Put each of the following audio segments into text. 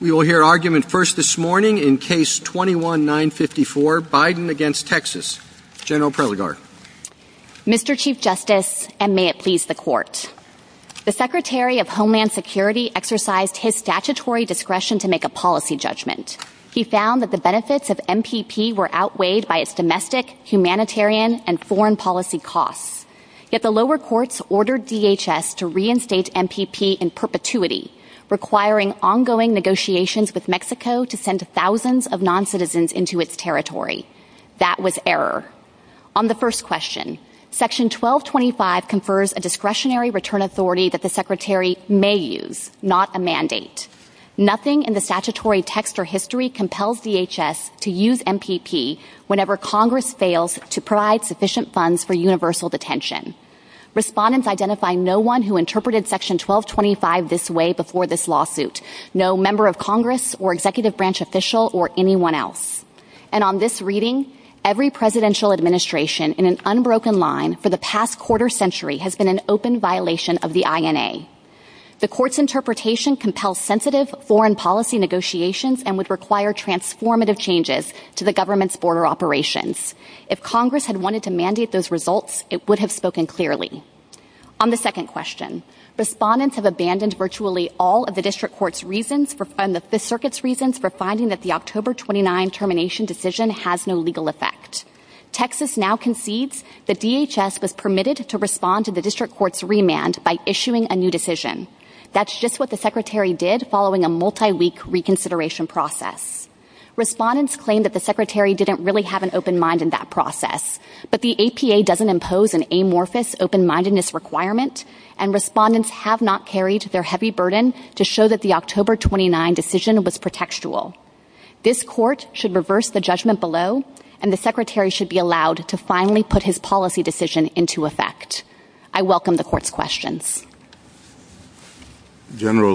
We will hear argument first this morning in case 21-954, Biden against Texas. General Preligar. Mr. Chief Justice, and may it please the Court. The Secretary of Homeland Security exercised his statutory discretion to make a policy judgment. He found that the benefits of MPP were outweighed by its domestic, humanitarian, and foreign policy costs. Yet the lower courts ordered DHS to Mexico to send thousands of noncitizens into its territory. That was error. On the first question, Section 1225 confers a discretionary return authority that the Secretary may use, not a mandate. Nothing in the statutory text or history compels DHS to use MPP whenever Congress fails to provide sufficient funds for universal detention. Respondents identify no one who interpreted Section 1225 this way before this lawsuit. No member of Congress or executive branch official or anyone else. And on this reading, every presidential administration in an unbroken line for the past quarter century has been an open violation of the INA. The Court's interpretation compels sensitive foreign policy negotiations and would require transformative changes to the government's border operations. If Congress had wanted to mandate those results, it would have spoken clearly. On the second question, respondents have abandoned virtually all of the District Court's reasons and the Fifth Circuit's reasons for finding that the October 29 termination decision has no legal effect. Texas now concedes that DHS was permitted to respond to the District Court's remand by issuing a new decision. That's just what the Secretary did following a multi-week reconsideration process. Respondents claim that the Secretary didn't really have an open mind in that process, but the APA doesn't impose an amorphous open-mindedness requirement, and respondents have not carried their heavy burden to show that the October 29 decision was pretextual. This Court should reverse the judgment below, and the Secretary should be allowed to finally put his policy decision into effect. I welcome the Court's questions. Justice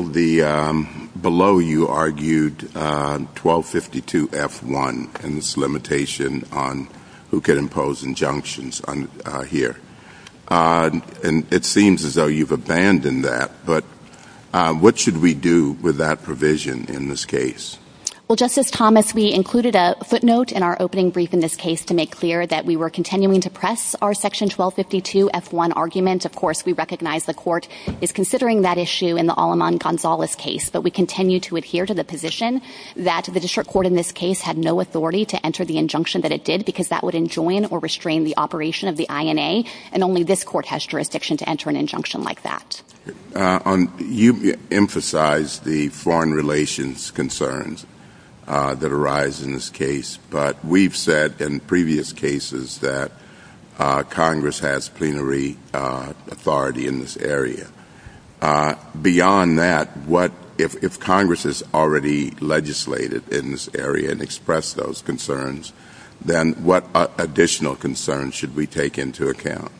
Thomas, we included a footnote in our opening brief in this case to make clear that we were continuing to press our Section 1252 F1 arguments. Of course, we recognize the District Court's position that the District Court had no authority to enter the injunction that it did because that would enjoin or restrain the operation of the INA, and only this Court has jurisdiction to enter an injunction like that. You emphasized the foreign relations concerns that arise in this case, but we've said in previous hearings that the District Court has no authority in this area. Beyond that, if Congress has already legislated in this area and expressed those concerns, then what additional concerns should we take into account?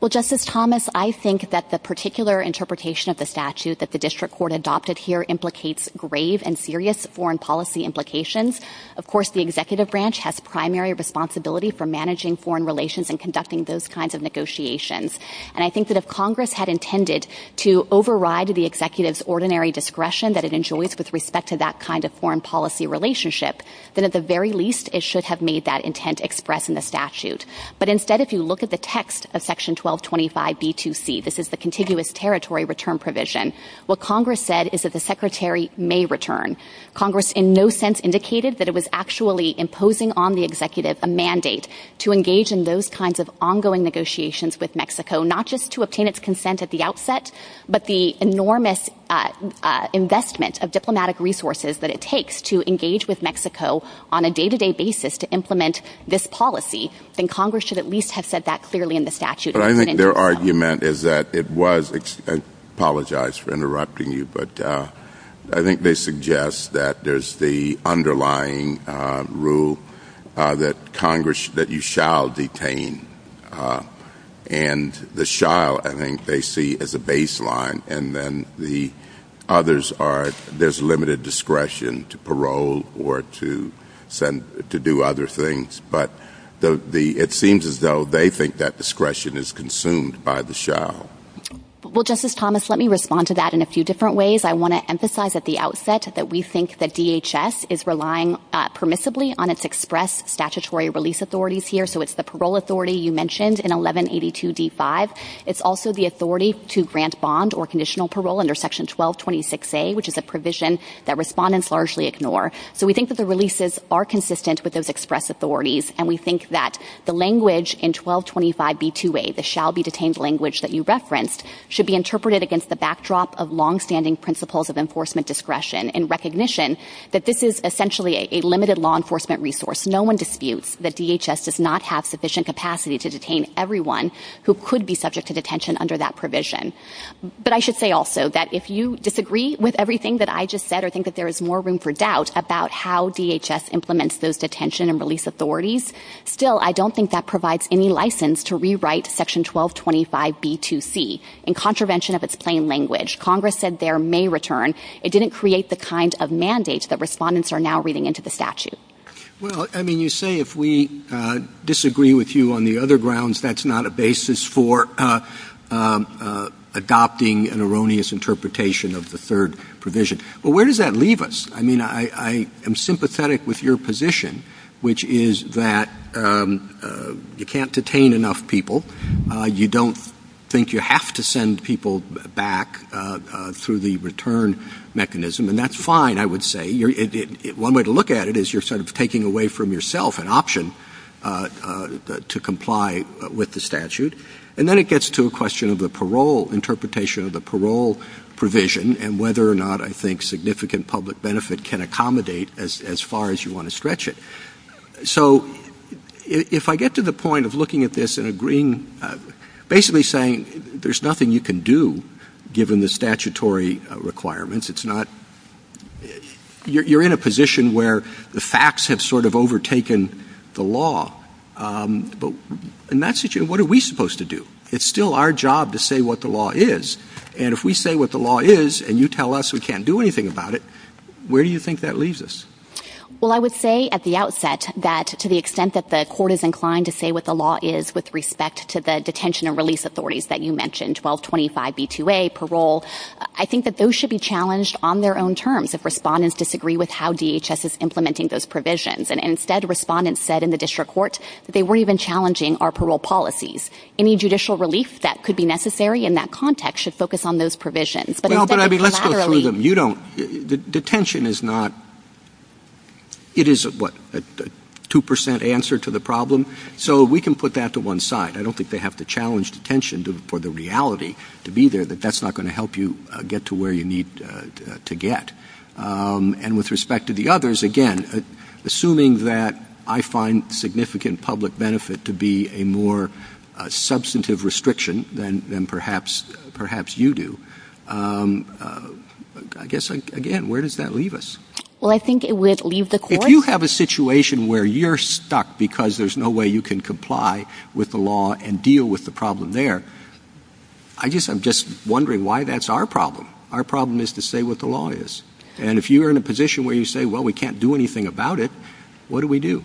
Well, Justice Thomas, I think that the particular interpretation of the statute that the District Court adopted here implicates grave and serious foreign policy implications. Of course, the Executive Branch has primary responsibility for managing foreign relations and conducting those kinds of negotiations. I think that if Congress had intended to override the Executive's ordinary discretion that it enjoys with respect to that kind of foreign policy relationship, then at the very least, it should have made that intent expressed in the statute. Instead, if you look at the text of Section 1225 B2C, this is the contiguous territory return provision, what Congress said is that the Secretary may return. Congress in no sense indicated that it was actually imposing on the Executive a mandate to engage in those kinds of ongoing negotiations with Mexico, not just to obtain its consent at the outset, but the enormous investment of diplomatic resources that it takes to engage with Mexico on a day-to-day basis to implement this policy. And Congress should at least have said that clearly in the statute. But I think their argument is that it was, I apologize for the delay, that you shall detain. And the shall, I think they see as a baseline, and then the others are, there's limited discretion to parole or to do other things. But it seems as though they think that discretion is consumed by the shall. Well, Justice Thomas, let me respond to that in a few different ways. I want to emphasize at the outset that we think that DHS is relying permissibly on its express statutory release authorities here. So it's the parole authority you mentioned in 1182 D5. It's also the authority to grant bond or conditional parole under Section 1226A, which is a provision that respondents largely ignore. So we think that the releases are consistent with those express authorities. And we think that the language in 1225 B2A, the shall be detained language that you referenced, should be interpreted against the backdrop of limited law enforcement resource. No one disputes that DHS does not have sufficient capacity to detain everyone who could be subject to detention under that provision. But I should say also that if you disagree with everything that I just said, or think that there is more room for doubt about how DHS implements those detention and release authorities, still, I don't think that provides any license to rewrite Section 1225 B2C in contravention of its plain language. Congress said there may return. It didn't create the kind of mandate that respondents are now reading into Well, I mean, you say if we disagree with you on the other grounds, that's not a basis for adopting an erroneous interpretation of the third provision. Well, where does that leave us? I mean, I am sympathetic with your position, which is that you can't detain enough people. You don't think you have to send people back through the return mechanism. And that's fine, I would say. One way to look at it is you're sort of taking away from yourself an option to comply with the statute. And then it gets to a question of the parole, interpretation of the parole provision, and whether or not I think significant public benefit can accommodate as far as you want to stretch it. So if I get to the point of looking at this and agreeing, basically saying there's nothing you can do, given the statutory requirements. You're in a position where the facts have sort of overtaken the law. What are we supposed to do? It's still our job to say what the law is. And if we say what the law is, and you tell us we can't do anything about it, where do you think that leaves us? Well, I would say at the outset that to the extent that the court is inclined to say what the law is with respect to the detention and release authorities that you mentioned, 1225 B2A, parole, I think that those should be challenged on their own terms if respondents disagree with how DHS is implementing those provisions. And instead, respondents said in the district court that they weren't even challenging our parole policies. Any judicial relief that could be necessary in that context should focus on those provisions. But I mean, let's go through them. You don't, detention is not, it is what, a 2% answer to the problem. So we can put that to one side. I don't think they have to challenge detention for the reality to be there, that that's not going to help you get to where you need to get. And with respect to the others, again, assuming that I find significant public benefit to be a more substantive restriction than perhaps you do. I guess, again, where does that leave us? Well, I think it would leave the court. If you have a situation where you're stuck because there's no way you can comply with the law and deal with the problem there, I guess I'm just wondering why that's our problem. Our problem is to say what the law is. And if you are in a position where you say, well, we can't do anything about it, what do we do?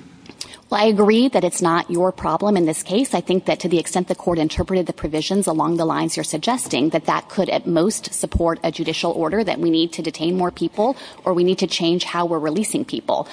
Well, I agree that it's not your problem in this case. I think that to the extent the court interpreted the provisions along the lines you're suggesting, that that could at most support a judicial order that we need to detain more people or we need to change how we're releasing people.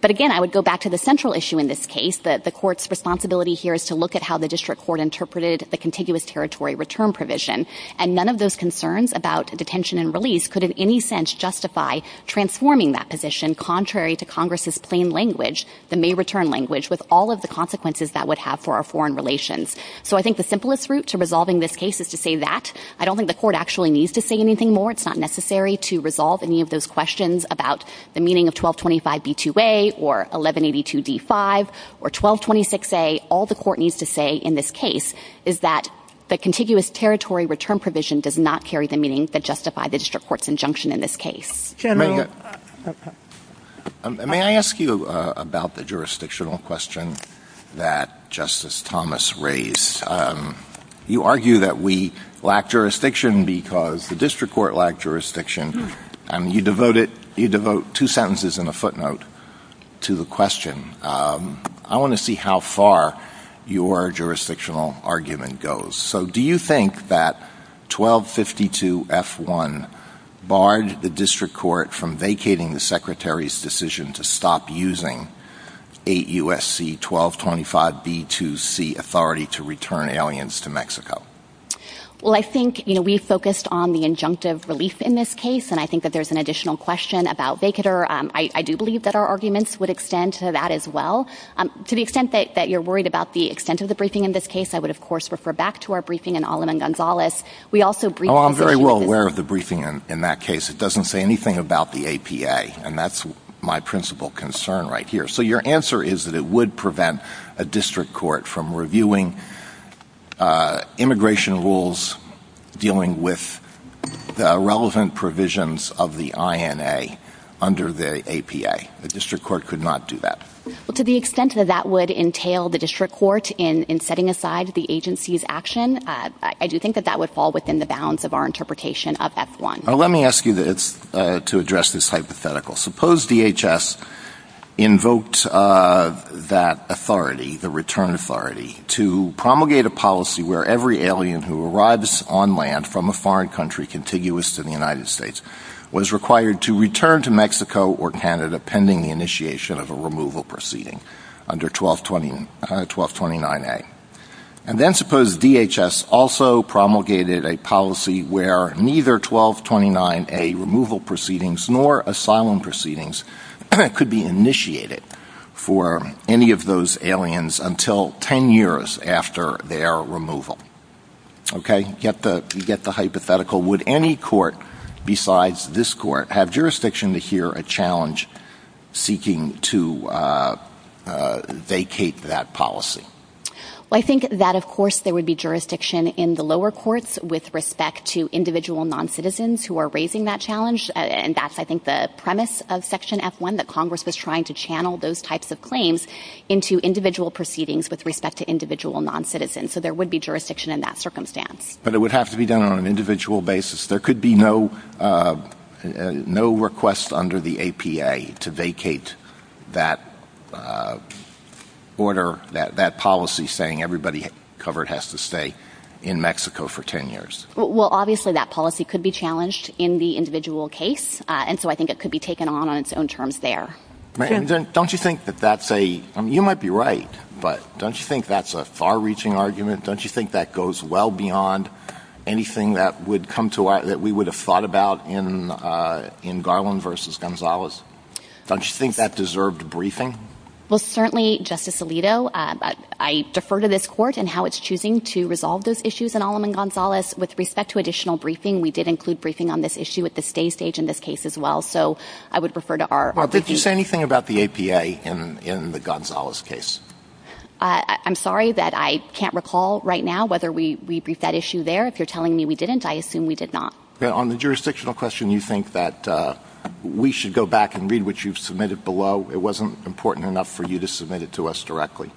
But again, I would go back to the central issue in this case. The court's responsibility here is to look at how the district court interpreted the contiguous territory return provision. And none of those concerns about detention and release could in any sense justify transforming that position contrary to Congress's plain language, the May return language, with all of the consequences that would have for our foreign relations. So I think the simplest route to resolving this case is to say that. I don't think the court actually needs to say anything more. It's not necessary to resolve any of those 1225 or 1226A. All the court needs to say in this case is that the contiguous territory return provision does not carry the meaning that justify the district court's injunction in this case. May I ask you about the jurisdictional question that Justice Thomas raised? You argue that we lack jurisdiction because the district court lacked jurisdiction. You devote two sentences and a footnote to the question. I want to see how far your jurisdictional argument goes. So do you think that 1252F1 barred the district court from vacating the secretary's decision to stop using 8 U.S.C. 1225B2C authority to return aliens to Mexico? Well, I think we focused on the injunctive relief in this case, and I think that there's an additional question about vacater. I do believe that our arguments would extend to that as well. To the extent that you're worried about the extent of the briefing in this case, I would, of course, refer back to our briefing in Alamán-Gonzalez. We also briefed... Oh, I'm very well aware of the briefing in that case. It doesn't say anything about the APA, and that's my principal concern right here. So your answer is that it would prevent a district court from reviewing immigration rules dealing with the relevant provisions of the INA under the APA. The district court could not do that. To the extent that that would entail the district court in setting aside the agency's action, I do think that that would fall within the bounds of our interpretation of F1. Let me ask you this to address this authority, the return authority, to promulgate a policy where every alien who arrives on land from a foreign country contiguous to the United States was required to return to Mexico or Canada pending the initiation of a removal proceeding under 1229A. And then suppose DHS also promulgated a policy where neither 1229A removal proceedings nor asylum proceedings could be initiated for any of those aliens until 10 years after their removal. Okay, get the hypothetical. Would any court besides this court have jurisdiction to hear a challenge seeking to vacate that policy? Well, I think that, of course, there would be jurisdiction in the lower courts with respect to individual noncitizens who are raising that challenge. And that's, I think, the premise of Section F1 that Congress is trying to channel those types of claims into individual proceedings with respect to individual noncitizens. So there would be jurisdiction in that circumstance. But it would have to be done on an individual basis. There could be no request under the APA to vacate that order, that policy saying everybody covered has to stay in Mexico for 10 years. Well, obviously, that policy could be challenged in the individual case. And so I think it could be taken on its own terms there. And don't you think that that's a, you might be right, but don't you think that's a far-reaching argument? Don't you think that goes well beyond anything that would come to, that we would have thought about in Garland v. Gonzalez? Don't you think that deserved briefing? Well, certainly, Justice Alito, I defer to this court and how it's choosing to resolve those issues in Aleman-Gonzalez. With respect to additional briefing, we did include briefing on this issue at the stay stage in this case as well. So I would refer to our- Well, did you say anything about the APA in the Gonzalez case? I'm sorry that I can't recall right now whether we briefed that issue there. If you're telling me we didn't, I assume we did not. On the jurisdictional question, you think that we should go back and read what you've submitted below. It wasn't important enough for you to submit it to us directly.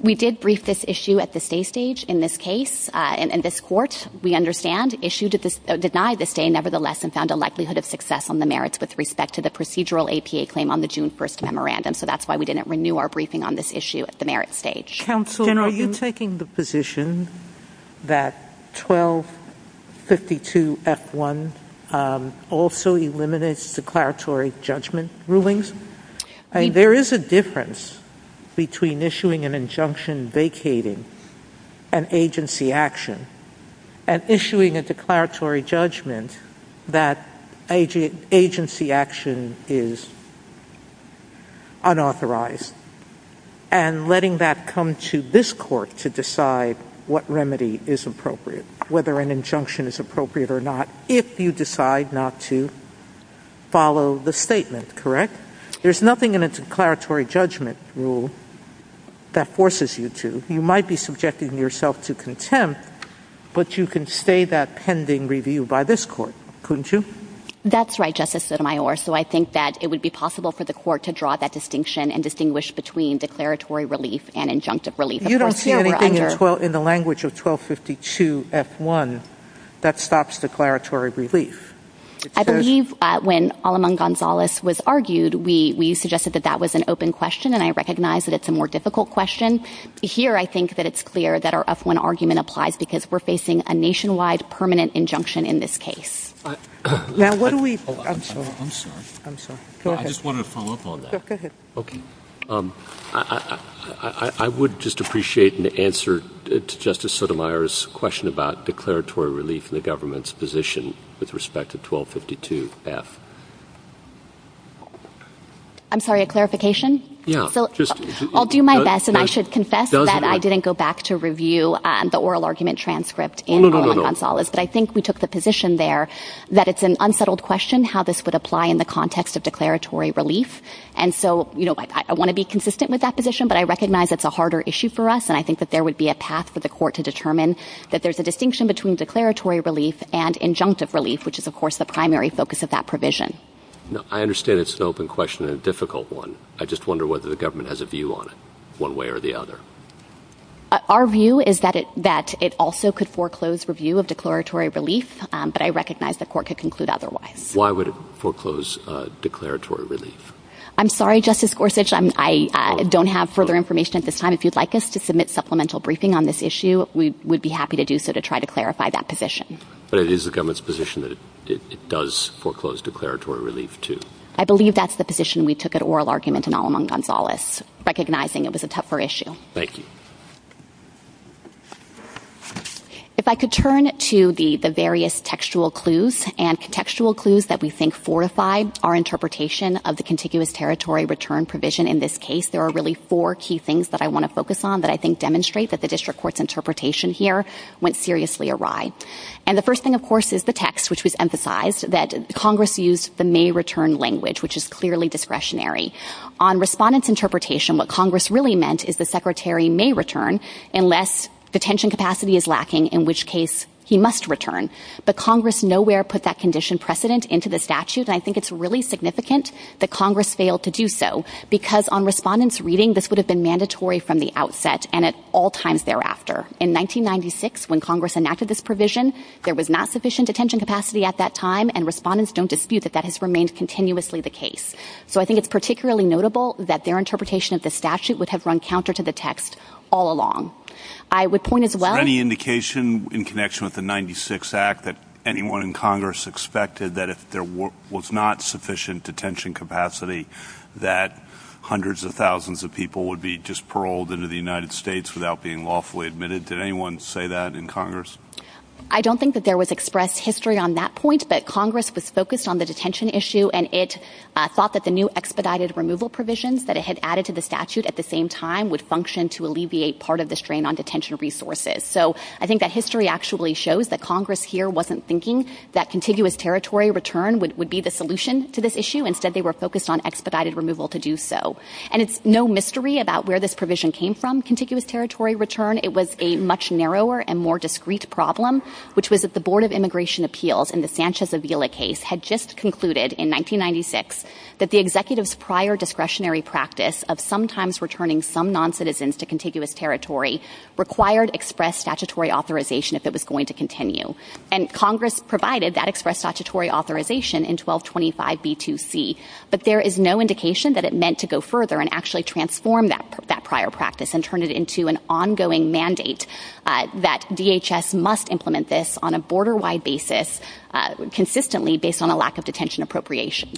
We did brief this issue at the stay stage in this case. And this court, we understand, denied the stay nevertheless and found a likelihood of success on the merits with respect to the procedural APA claim on the June 1st memorandum. So that's why we didn't renew our briefing on this issue at the merits stage. Counsel, are you taking the position that 1252F1 also eliminates declaratory judgment rulings? There is a difference between issuing an injunction vacating an agency action and issuing a declaratory judgment that agency action is unauthorized and letting that come to this court to decide what remedy is appropriate, whether an injunction is appropriate or not, if you decide not to follow the statement, correct? There's nothing in a declaratory judgment rule that forces you to. You might be subjecting yourself to contempt, but you can stay that pending review by this court, couldn't you? That's right, Justice Sotomayor. So I think that it would be possible for the court to draw that distinction and distinguish between declaratory relief and injunctive relief. You don't see anything in the language of 1252F1 that stops declaratory relief? I believe when Aleman Gonzalez was argued, we suggested that that was an open question, and I recognize that it's a more difficult question. Here, I think that it's clear that our F1 argument applies because we're facing a nationwide permanent injunction in this case. Now, what do we... I'm sorry. I'm sorry. Go ahead. I just want to follow up on that. Go ahead. Okay. I would just appreciate an answer to Justice Sotomayor's question about declaratory relief in the government's position with respect to 1252F. I'm sorry, a clarification? Yeah, just... I'll do my best, and I should confess that I didn't go back to review the oral argument transcript in Aleman Gonzalez, but I think we took the position there that it's an unsettled question how this would apply in the context of declaratory relief. And so I want to be consistent with that position, but I recognize it's a harder issue for us, and I think that there would be a path for the court to determine that there's a distinction between declaratory relief and injunctive relief, which is, of course, the primary focus of that provision. I understand it's an open question and a difficult one. I just wonder whether the foreclosed review of declaratory relief, but I recognize the court could conclude otherwise. Why would it foreclose declaratory relief? I'm sorry, Justice Gorsuch, I don't have further information at this time. If you'd like us to submit supplemental briefing on this issue, we would be happy to do so to try to clarify that position. But it is the government's position that it does foreclose declaratory relief, too. I believe that's the position we took at oral argument in Aleman Gonzalez, recognizing it was a tougher issue. Thank you. If I could turn to the various textual clues and contextual clues that we think fortified our interpretation of the contiguous territory return provision in this case, there are really four key things that I want to focus on that I think demonstrate that the district court's interpretation here went seriously awry. And the first thing, of course, is the text, which was emphasized that Congress used the may return language, which is clearly discretionary. On respondents' interpretation, what Congress really meant is the secretary may return unless detention capacity is lacking, in which case he must return. But Congress nowhere put that condition precedent into the statute. And I think it's really significant that Congress failed to do so because on respondents' reading, this would have been mandatory from the outset and at all times thereafter. In 1996, when Congress enacted this provision, there was not sufficient detention capacity at that time, and respondents don't dispute that that has remained continuously the case. So I think it's particularly notable that their interpretation of the statute would have run counter to the text all along. I would point as well... Any indication in connection with the 96 Act that anyone in Congress expected that if there was not sufficient detention capacity, that hundreds of thousands of people would be just paroled into the United States without being lawfully admitted? Did anyone say that in Congress? I don't think that there was expressed history on that point, but Congress was focused on the at the same time would function to alleviate part of the strain on detention resources. So I think that history actually shows that Congress here wasn't thinking that contiguous territory return would be the solution to this issue. Instead, they were focused on expedited removal to do so. And it's no mystery about where this provision came from, contiguous territory return. It was a much narrower and more discrete problem, which was that the Board of Immigration Appeals in the Sanchez Avila case had just concluded in 1996 that the executive's prior discretionary practice of sometimes returning some non-citizens to contiguous territory required express statutory authorization if it was going to continue. And Congress provided that express statutory authorization in 1225 B2C, but there is no indication that it meant to go further and actually transform that prior practice and turn it into an ongoing mandate that DHS must implement this on a borderline basis, consistently based on a lack of detention appropriation.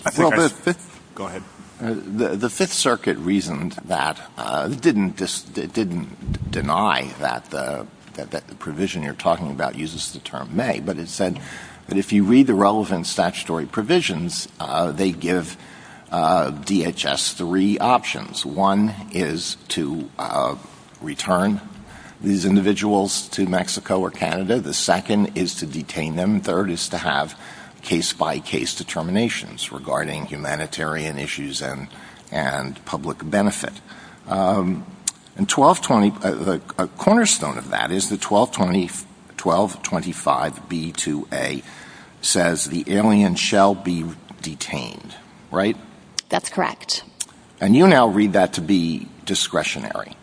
Go ahead. The Fifth Circuit reasoned that didn't just didn't deny that the provision you're talking about uses the term may, but it said that if you read the relevant statutory provisions, they give DHS three options. One is to return these individuals to Mexico or Canada. The second is to detain them. Third is to have case-by-case determinations regarding humanitarian issues and public benefit. A cornerstone of that is the 1225 B2A says the alien shall be detained, right? That's correct. And you now read that to be discretionary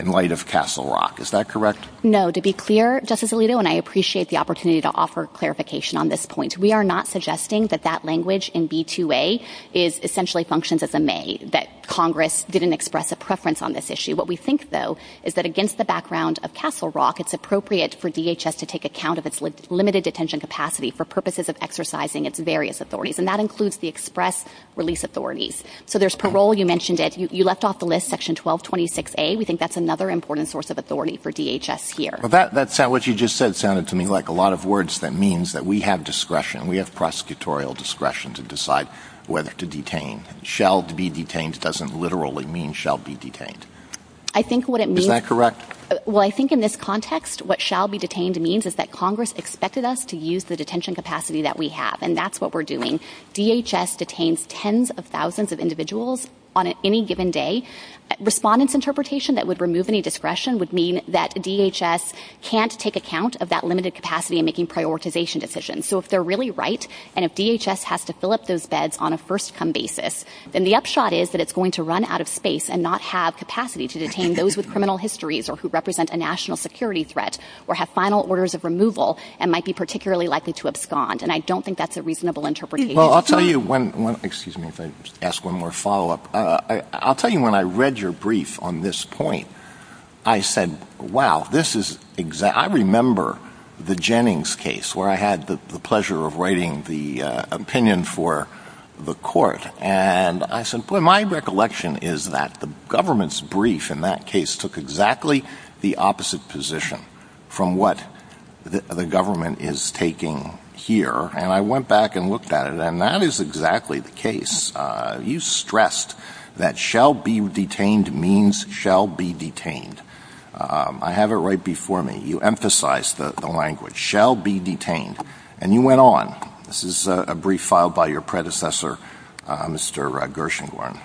in light of Castle Rock. Is that correct? No. To be clear, Justice Alito, and I appreciate the opportunity to offer clarification on this point, we are not suggesting that that language in B2A essentially functions as a may, that Congress didn't express a preference on this issue. What we think, though, is that against the background of Castle Rock, it's appropriate for DHS to take account of its limited detention capacity for purposes of exercising its various authorities, and that includes the express release authorities. So there's parole. You mentioned it. You left off the list, Section 1226A. We think that's another important source of authority for DHS here. That's what you just said sounded to me like a lot of words that means that we have discretion. We have prosecutorial discretion to decide whether to detain. Shall be detained doesn't literally mean shall be detained. I think what it means- Is that correct? Well, I think in this context, what shall be detained means is that Congress expected us to use the detention capacity that we have, and that's what we're doing. DHS detains tens of thousands of individuals on any given day. Respondents' interpretation that would remove any discretion would mean that DHS can't take account of that limited capacity in making prioritization decisions. So if they're really right, and if DHS has to fill up those beds on a first-come basis, then the upshot is that it's going to run out of space and not have capacity to detain those with criminal histories or who represent a national security threat or have final orders of removal and might be particularly likely to abscond, and I don't think that's a reasonable interpretation. Well, I'll tell you one- Excuse me if I ask one more follow-up. I'll tell you when I read your brief on this point, I said, wow, I remember the Jennings case where I had the pleasure of writing the opinion for the court, and I said, well, my recollection is that the government's brief in that case took exactly the opposite position from what the government is taking here, and I went back and looked at it, and that is exactly the case. You stressed that shall be detained means shall be detained. I have it right before me. You emphasized the language, shall be detained, and you went on. This is a brief filed by your predecessor, Mr. Gershengorn.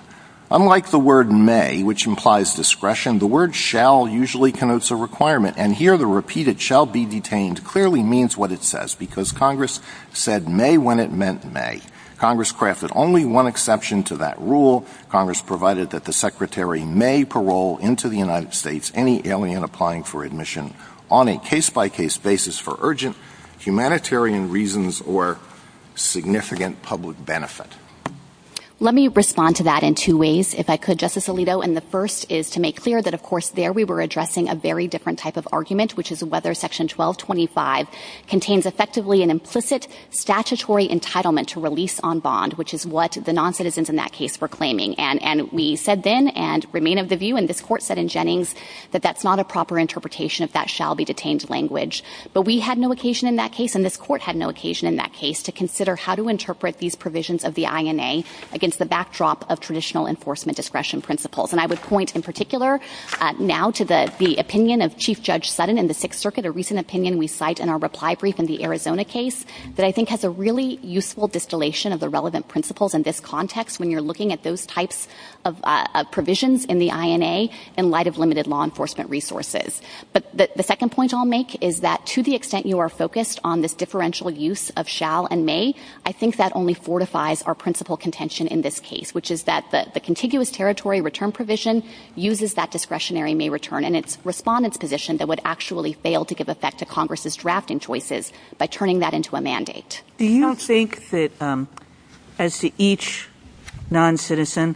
Unlike the word may, which implies discretion, the word shall usually connotes a requirement, and here the repeated shall be detained clearly means what it says, because Congress said may when it meant may. Congress crafted only one exception to that rule. Congress provided that the Secretary may parole into the United States any alien applying for admission on a case-by-case basis for urgent humanitarian reasons or significant public benefit. Let me respond to that in two ways, if I could, Justice Alito, and the first is to make clear that, of course, there we were addressing a very different type of argument, which is whether Section 1225 contains effectively an implicit statutory entitlement to release on bond, which is what the noncitizens in that case were claiming, and we said then and remain of the view, and this court said in Jennings, that that's not a proper interpretation of that shall be detained language, but we had no occasion in that case, and this court had no occasion in that case to consider how to interpret these provisions of the INA against the backdrop of traditional enforcement discretion principles, and I would point in particular now to the opinion of Chief Judge Sutton in the Sixth Circuit, a recent opinion we cite in our reply brief in the Arizona case that I think has a really useful distillation of the relevant principles in this context when you're looking at those types of provisions in the INA in light of limited law enforcement resources, but the second point I'll make is that to the extent you are focused on this differential use of shall and may, I think that only fortifies our principal contention in this case, which is that the contiguous territory return provision uses that discretionary may return and its respondents position that would actually fail to give effect to Congress's drafting choices by turning that mandate. Do you think that as to each non-citizen,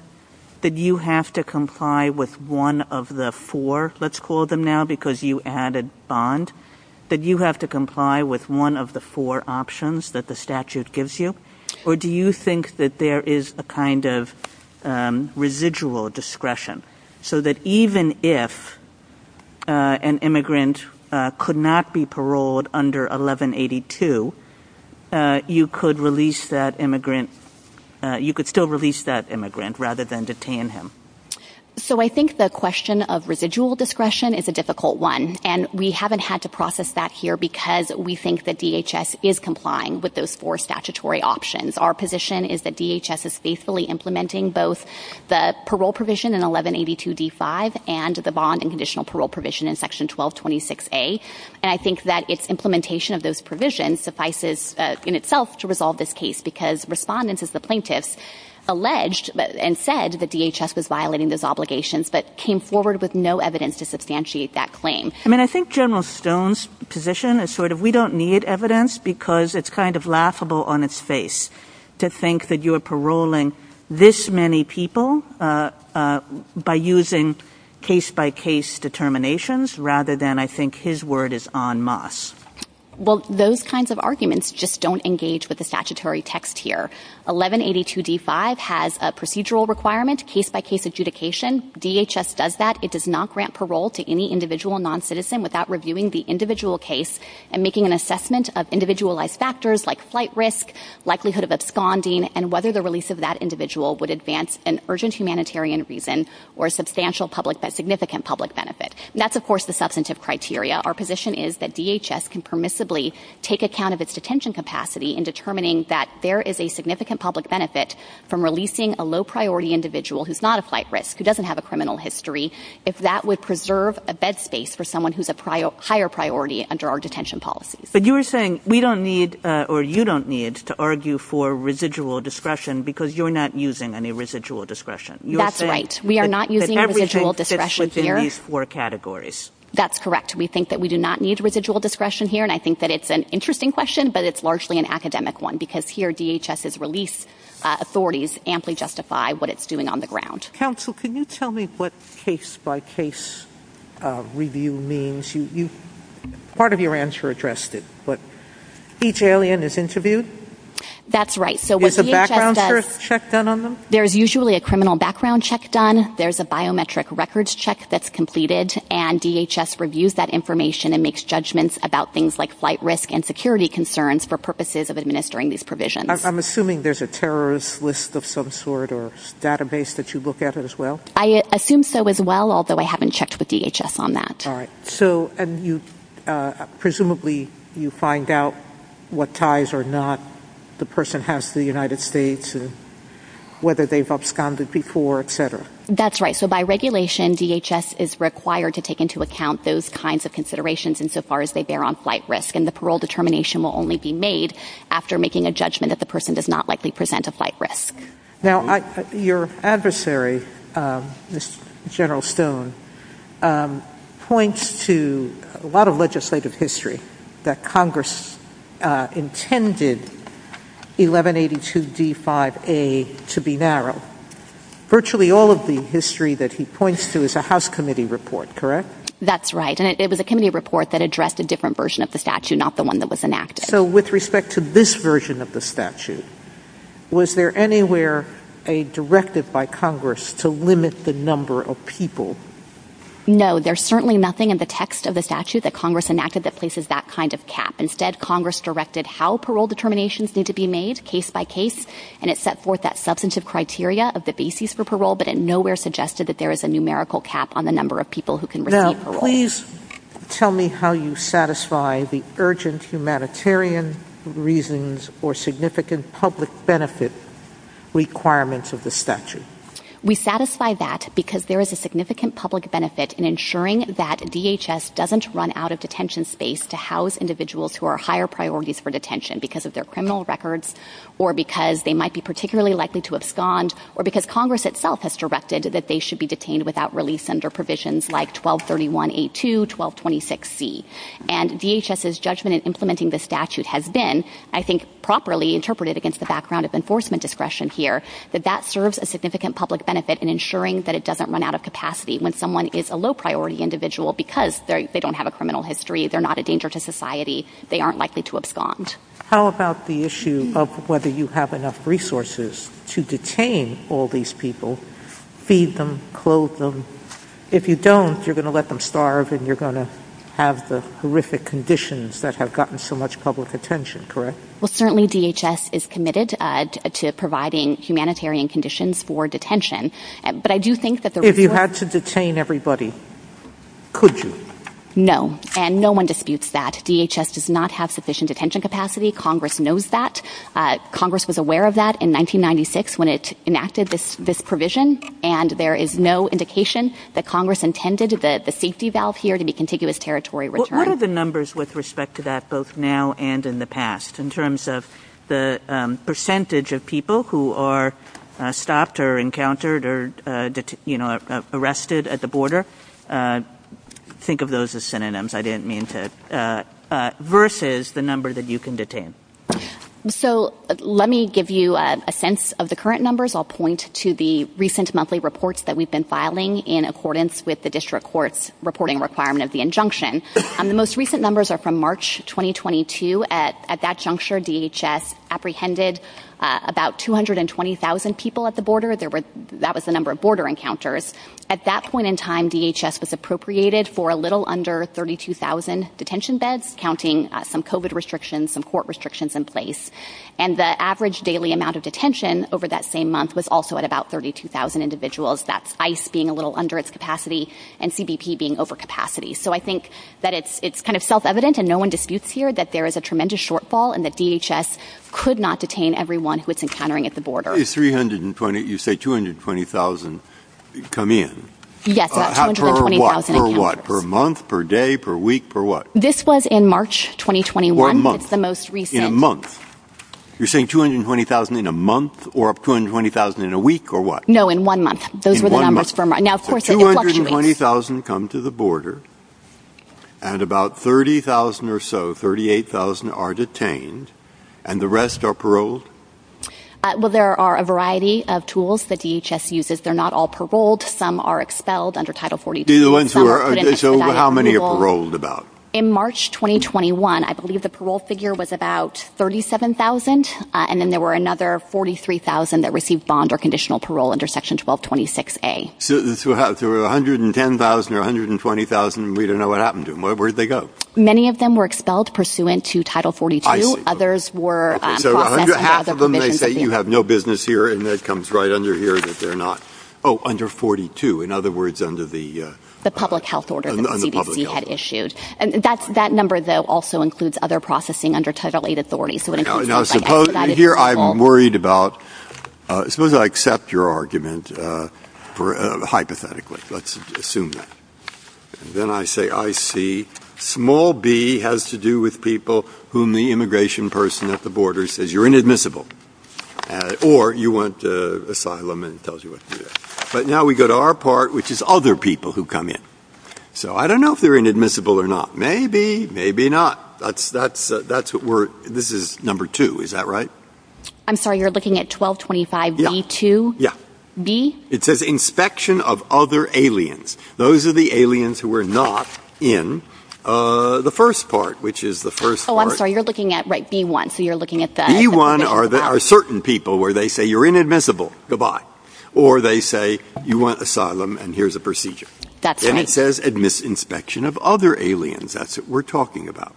that you have to comply with one of the four, let's call them now because you added bond, that you have to comply with one of the four options that the statute gives you, or do you think that there is a kind of residual discretion so that even if an immigrant could not be paroled under 1182, you could still release that immigrant rather than detain him? So I think the question of residual discretion is a difficult one, and we haven't had to process that here because we think that DHS is complying with those four statutory options. Our position is that DHS is faithfully implementing both the parole provision in 1182d5 and the bond and conditional parole provision in section 1226a, and I think that its implementation of those provisions suffices in itself to resolve this case because respondents as the plaintiffs alleged and said that DHS is violating those obligations but came forward with no evidence to substantiate that claim. I mean, I think General Stone's position is sort of we don't need evidence because it's kind of laughable on its face to think that you're paroling this many people by using case-by-case determinations rather than I think his word is en masse. Well, those kinds of arguments just don't engage with the statutory text here. 1182d5 has a procedural requirement, case-by-case adjudication. DHS does that. It does not grant parole to any individual non-citizen without reviewing the individual case and making an assessment of individualized factors like flight risk, likelihood of responding, and whether the release of that individual would advance an urgent humanitarian reason or a substantial public, significant public benefit. That's of course the substantive criteria. Our position is that DHS can permissibly take account of its detention capacity in determining that there is a significant public benefit from releasing a low-priority individual who's not a flight risk, who doesn't have a criminal history, if that would preserve a bed space for someone who's a higher priority under our detention policy. But you were saying we don't need or you don't need to argue for residual discretion because you're not using any residual discretion. That's right. We are not using residual discretion here. That's correct. We think that we do not need residual discretion here and I think that it's an interesting question but it's largely an academic one because here DHS's release authorities amply justify what it's doing on the ground. Counsel, can you tell me what case-by-case review means? Part of your answer addressed it, but each alien is interviewed? That's right. So there's a background check done on them? There's usually a criminal background check done. There's a biometric records check that's completed and DHS reviews that information and makes judgments about things like flight risk and security concerns for purposes of administering these provisions. I'm assuming there's a terrorist list of some sort or database that you look at as well? I assume so as well, although I haven't checked with DHS on that. And presumably you find out what ties or not the person has to the United States and whether they've absconded before, et cetera? That's right. So by regulation, DHS is required to take into account those kinds of considerations insofar as they bear on flight risk and the parole determination will only be made after making a judgment that the person does not likely present a flight risk. Now, your adversary, General Stone, points to a lot of legislative history that Congress intended 1182 D5A to be narrow. Virtually all of the history that he points to is a House committee report, correct? That's right. And it was a committee report that addressed a different version of the statute, not the one that was enacted. So with respect to this statute, was there anywhere a directive by Congress to limit the number of people? No, there's certainly nothing in the text of the statute that Congress enacted that places that kind of cap. Instead, Congress directed how parole determinations need to be made case by case, and it set forth that substantive criteria of the basis for parole, but it nowhere suggested that there is a numerical cap on the number of people who can receive parole. Now, please tell me how you satisfy the urgent humanitarian reasons or significant public benefit requirements of the statute. We satisfy that because there is a significant public benefit in ensuring that DHS doesn't run out of detention space to house individuals who are higher priorities for detention because of their criminal records or because they might be particularly likely to abscond or because Congress itself has directed that they should be detained without release under provisions like 1231A2, 1226C. And DHS's judgment in implementing the statute has been, I think, properly interpreted against the background of enforcement discretion here, that that serves a significant public benefit in ensuring that it doesn't run out of capacity. When someone is a low-priority individual because they don't have a criminal history, they're not a danger to society, they aren't likely to abscond. How about the issue of whether you have enough resources to detain all these people, feed them, clothe them? If you don't, you're going to let them starve and you're going to have the horrific conditions that have gotten so much public attention, correct? Well, certainly DHS is committed to providing humanitarian conditions for detention. If you had to detain everybody, could you? No, and no one disputes that. DHS does not have sufficient detention capacity. Congress knows that. Congress was aware of that in 1996 when it enacted this provision and there is no indication that Congress intended the safety valve here to be contiguous territory return. What are the numbers with respect to that, both now and in the past, in terms of the percentage of people who are stopped or encountered or arrested at the border? Think of those as synonyms. I didn't mean to. Versus the number that you can detain. So let me give you a sense of the current numbers. I'll point to the recent monthly reports that we've been filing in accordance with the district court's reporting requirement of the injunction. The most recent numbers are from March 2022. At that juncture, DHS apprehended about 220,000 people at the border. That was the number of border encounters. At that point in time, DHS was appropriated for a little under 32,000 detention beds, counting some COVID restrictions, some court restrictions in place. And the average daily amount of detention over that same month was also at about 32,000 individuals. That's ICE being a little under its capacity and CBP being over capacity. So I think that it's kind of self-evident and no one disputes here that there is a tremendous shortfall and that DHS could not detain everyone who it's encountering at the border. You say 220,000 come in. Yes, about 220,000. Per what? Per month, per day, per week, per what? This was in March 2021. In a month? You're saying 220,000 in a month or 220,000 in a week or what? No, in one month. Those were the numbers for now. Now, of course, 220,000 come to the border and about 30,000 or so, 38,000 are detained and the rest are paroled. Well, there are a variety of tools that DHS uses. They're not all paroled. Some are expelled under Title 40. These are the ones who are expelled. So how many are paroled about? In March 2021, I believe the parole figure was about 37,000 and then there were another 43,000 that received bond or conditional parole under Section 1226A. There were 110,000 or 120,000. We don't know what happened to them. Where'd they go? Many of them were expelled pursuant to Title 42. Others were... Half of them, they say you have no business here and that comes right under here that they're not... Oh, under 42. In other words, under the... The public health order that the CDC had issued. That number, though, also includes other processing under Title 8 authorities. Here, I'm worried about... Suppose I accept your argument hypothetically. Let's assume that. Then I say, I see. Small b has to do with people whom the immigration person at the border says you're inadmissible or you want asylum and tells you what to do. But now we go to our part, which is other people who come in. I don't know if they're inadmissible or not. Maybe, maybe not. That's what we're... This is number two, is that right? I'm sorry, you're looking at 1225B2? Yeah. B? It says inspection of other aliens. Those are the aliens who were not in the first part, which is the first part. Oh, I'm sorry, you're looking at B1, so you're looking at the... B1 are certain people where they say you're inadmissible, goodbye. Or they say you want asylum and here's a procedure. That's right. Then it says admiss inspection of other aliens. That's what we're talking about.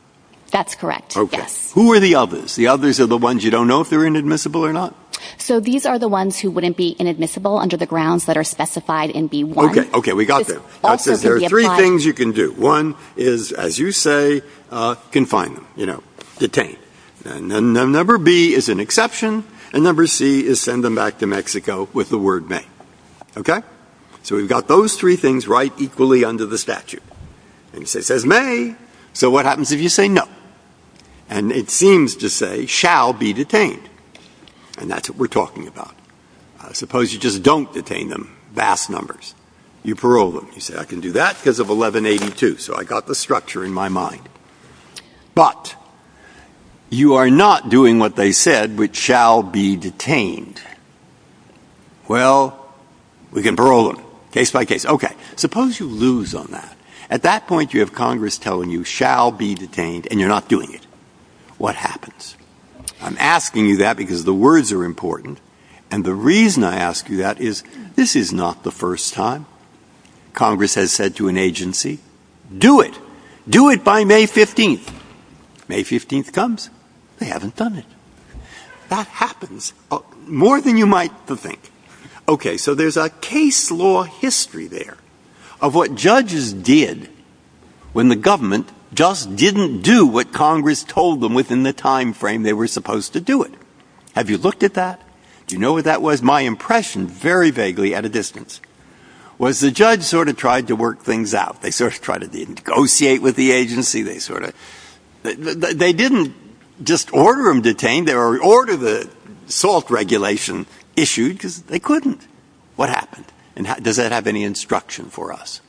That's correct. Okay. Who are the others? The others are the ones you don't know if they're inadmissible or not. So these are the ones who wouldn't be inadmissible under the grounds that are specified in B1. Okay, okay, we got there. I said there are three things you can do. One is, as you say, confine them, you know, detain. Number B is an exception and number C is send them back to Mexico with the word may. Okay? So we've got those three things right equally under the statute. And it says may. So what happens if you say no? And it seems to say shall be detained. And that's what we're talking about. I suppose you just don't detain them, vast numbers. You parole them. You say I can do that because of 1182. So I got the structure in my mind. But you are not doing what they said, which shall be detained. Well, we can parole them, case by case. Okay, suppose you lose on that. At that point, you have Congress telling you shall be detained and you're not doing it. What happens? I'm asking you that because the words are important. And the reason I ask you that is, this is not the first time Congress has said to an agency, do it, do it by May 15th. May 15th comes, they haven't done it. That happens. More than you might think. Okay, so there's a case law history there of what judges did when the government just didn't do what Congress told them within the time frame they were supposed to do it. Have you looked at that? Do you know what that was? My impression, very vaguely at a distance, was the judge sort of tried to work things out. They sort of tried to negotiate with the agency. They sort of, they didn't just order them detained. They ordered the assault regulation issued because they couldn't. What happened? And does that have any instruction for us?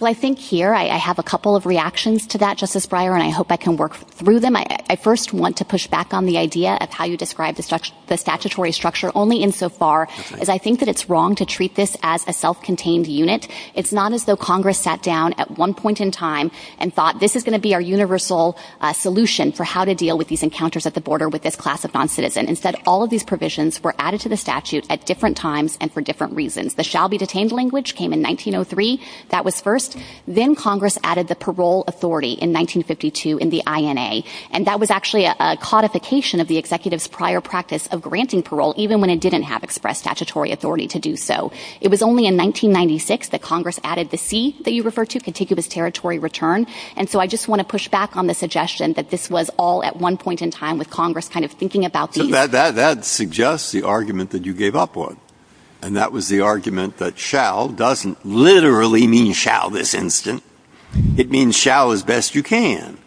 Well, I think here I have a couple of reactions to that, Justice Breyer, and I hope I can work through them. I first want to push back on the idea of how you describe the statutory structure only in so far as I think that it's wrong to treat this as a self-contained unit. It's not as though Congress sat down at one point in time and thought this is going to be our universal solution for how to deal with these encounters at the border with this classified citizen. Instead, all of these provisions were added to the statute at different times and for different reasons. The shall be detained language came in 1903. That was first. Then Congress added the parole authority in 1952 in the INA. And that was actually a codification of the executive's prior practice of granting parole even when it didn't have expressed statutory authority to do so. It was only in 1996 that Congress added the C that you refer to, contiguous territory return. And so I just want to push back on the suggestion that this was all at one point in time with That suggests the argument that you gave up on. And that was the argument that shall doesn't literally mean shall this instant. It means shall as best you can.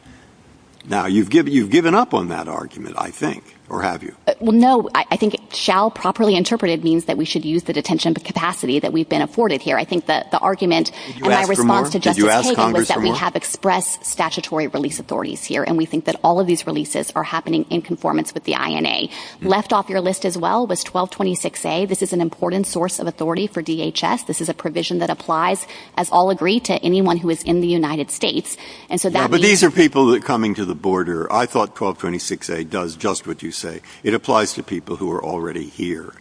Now you've given up on that argument, I think, or have you? Well, no, I think shall properly interpreted means that we should use the detention capacity that we've been afforded here. I think that the argument and my response to Justice Hagel was that we have expressed statutory release authorities here. We think that all of these releases are happening in conformance with the INA. Left off your list as well was 1226a. This is an important source of authority for DHS. This is a provision that applies, as all agree, to anyone who is in the United States. But these are people that are coming to the border. I thought 1226a does just what you say. It applies to people who are already here.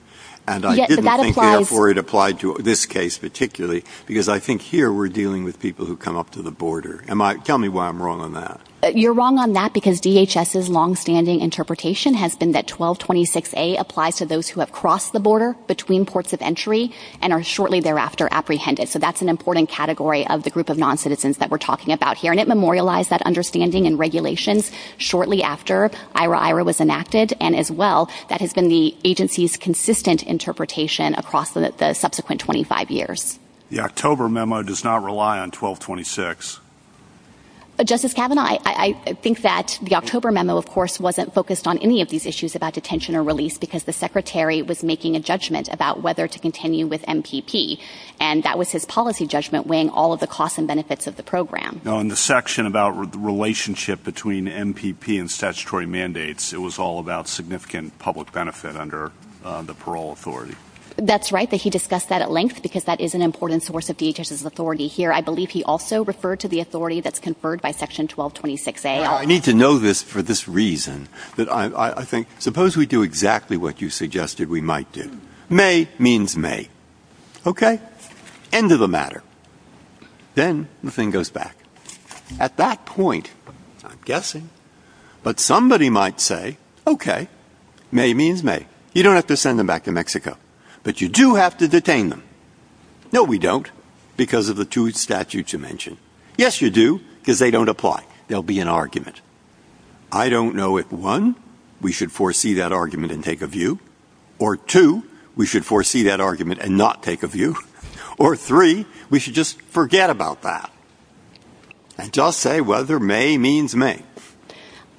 And I didn't think therefore it applied to this case particularly because I think here we're dealing with people who come up to the border. Tell me why I'm wrong on that. You're wrong on that because DHS's longstanding interpretation has been that 1226a applies to those who have crossed the border between ports of entry and are shortly thereafter apprehended. So that's an important category of the group of non-citizens that we're talking about here. And it memorialized that understanding and regulations shortly after IRA-IRA was enacted. And as well, that has been the agency's consistent interpretation across the subsequent 25 years. The October memo does not rely on 1226. Justice Kavanaugh, I think that the October memo, of course, wasn't focused on any of these issues about detention or release because the Secretary was making a judgment about whether to continue with MPP. And that was his policy judgment weighing all of the costs and benefits of the program. No, in the section about the relationship between MPP and statutory mandates, it was all about significant public benefit under the parole authority. That's right. But he discussed that at length because that is an important source of DHS's authority here. I believe he also referred to the authority that's conferred by section 1226A. I need to know this for this reason, that I think, suppose we do exactly what you suggested we might do. May means May. Okay, end of the matter. Then the thing goes back. At that point, I'm guessing, but somebody might say, okay, May means May. You don't have to send them back to Mexico, but you do have to detain them. No, we don't, because of the two statutes you mentioned. Yes, you do, because they don't apply. There'll be an argument. I don't know if one, we should foresee that argument and take a view, or two, we should foresee that argument and not take a view, or three, we should just forget about that and just say whether May means May.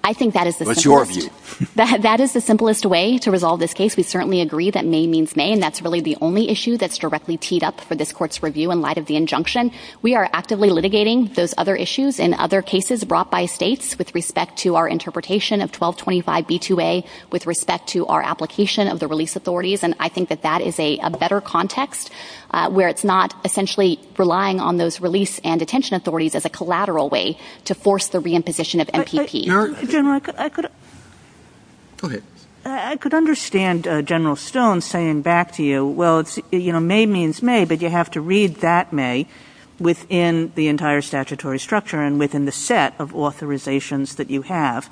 I think that is the simplest way to resolve this case. We certainly agree that May means May. That's really the only issue that's directly teed up for this court's review in light of the injunction. We are actively litigating those other issues and other cases brought by states with respect to our interpretation of 1225B2A, with respect to our application of the release authorities. I think that that is a better context where it's not essentially relying on those release and detention authorities as a collateral way to force the reimposition of MPP. General, I could understand General Stone saying back to you, well, May means May, but you have to read that May within the entire statutory structure and within the set of authorizations that you have.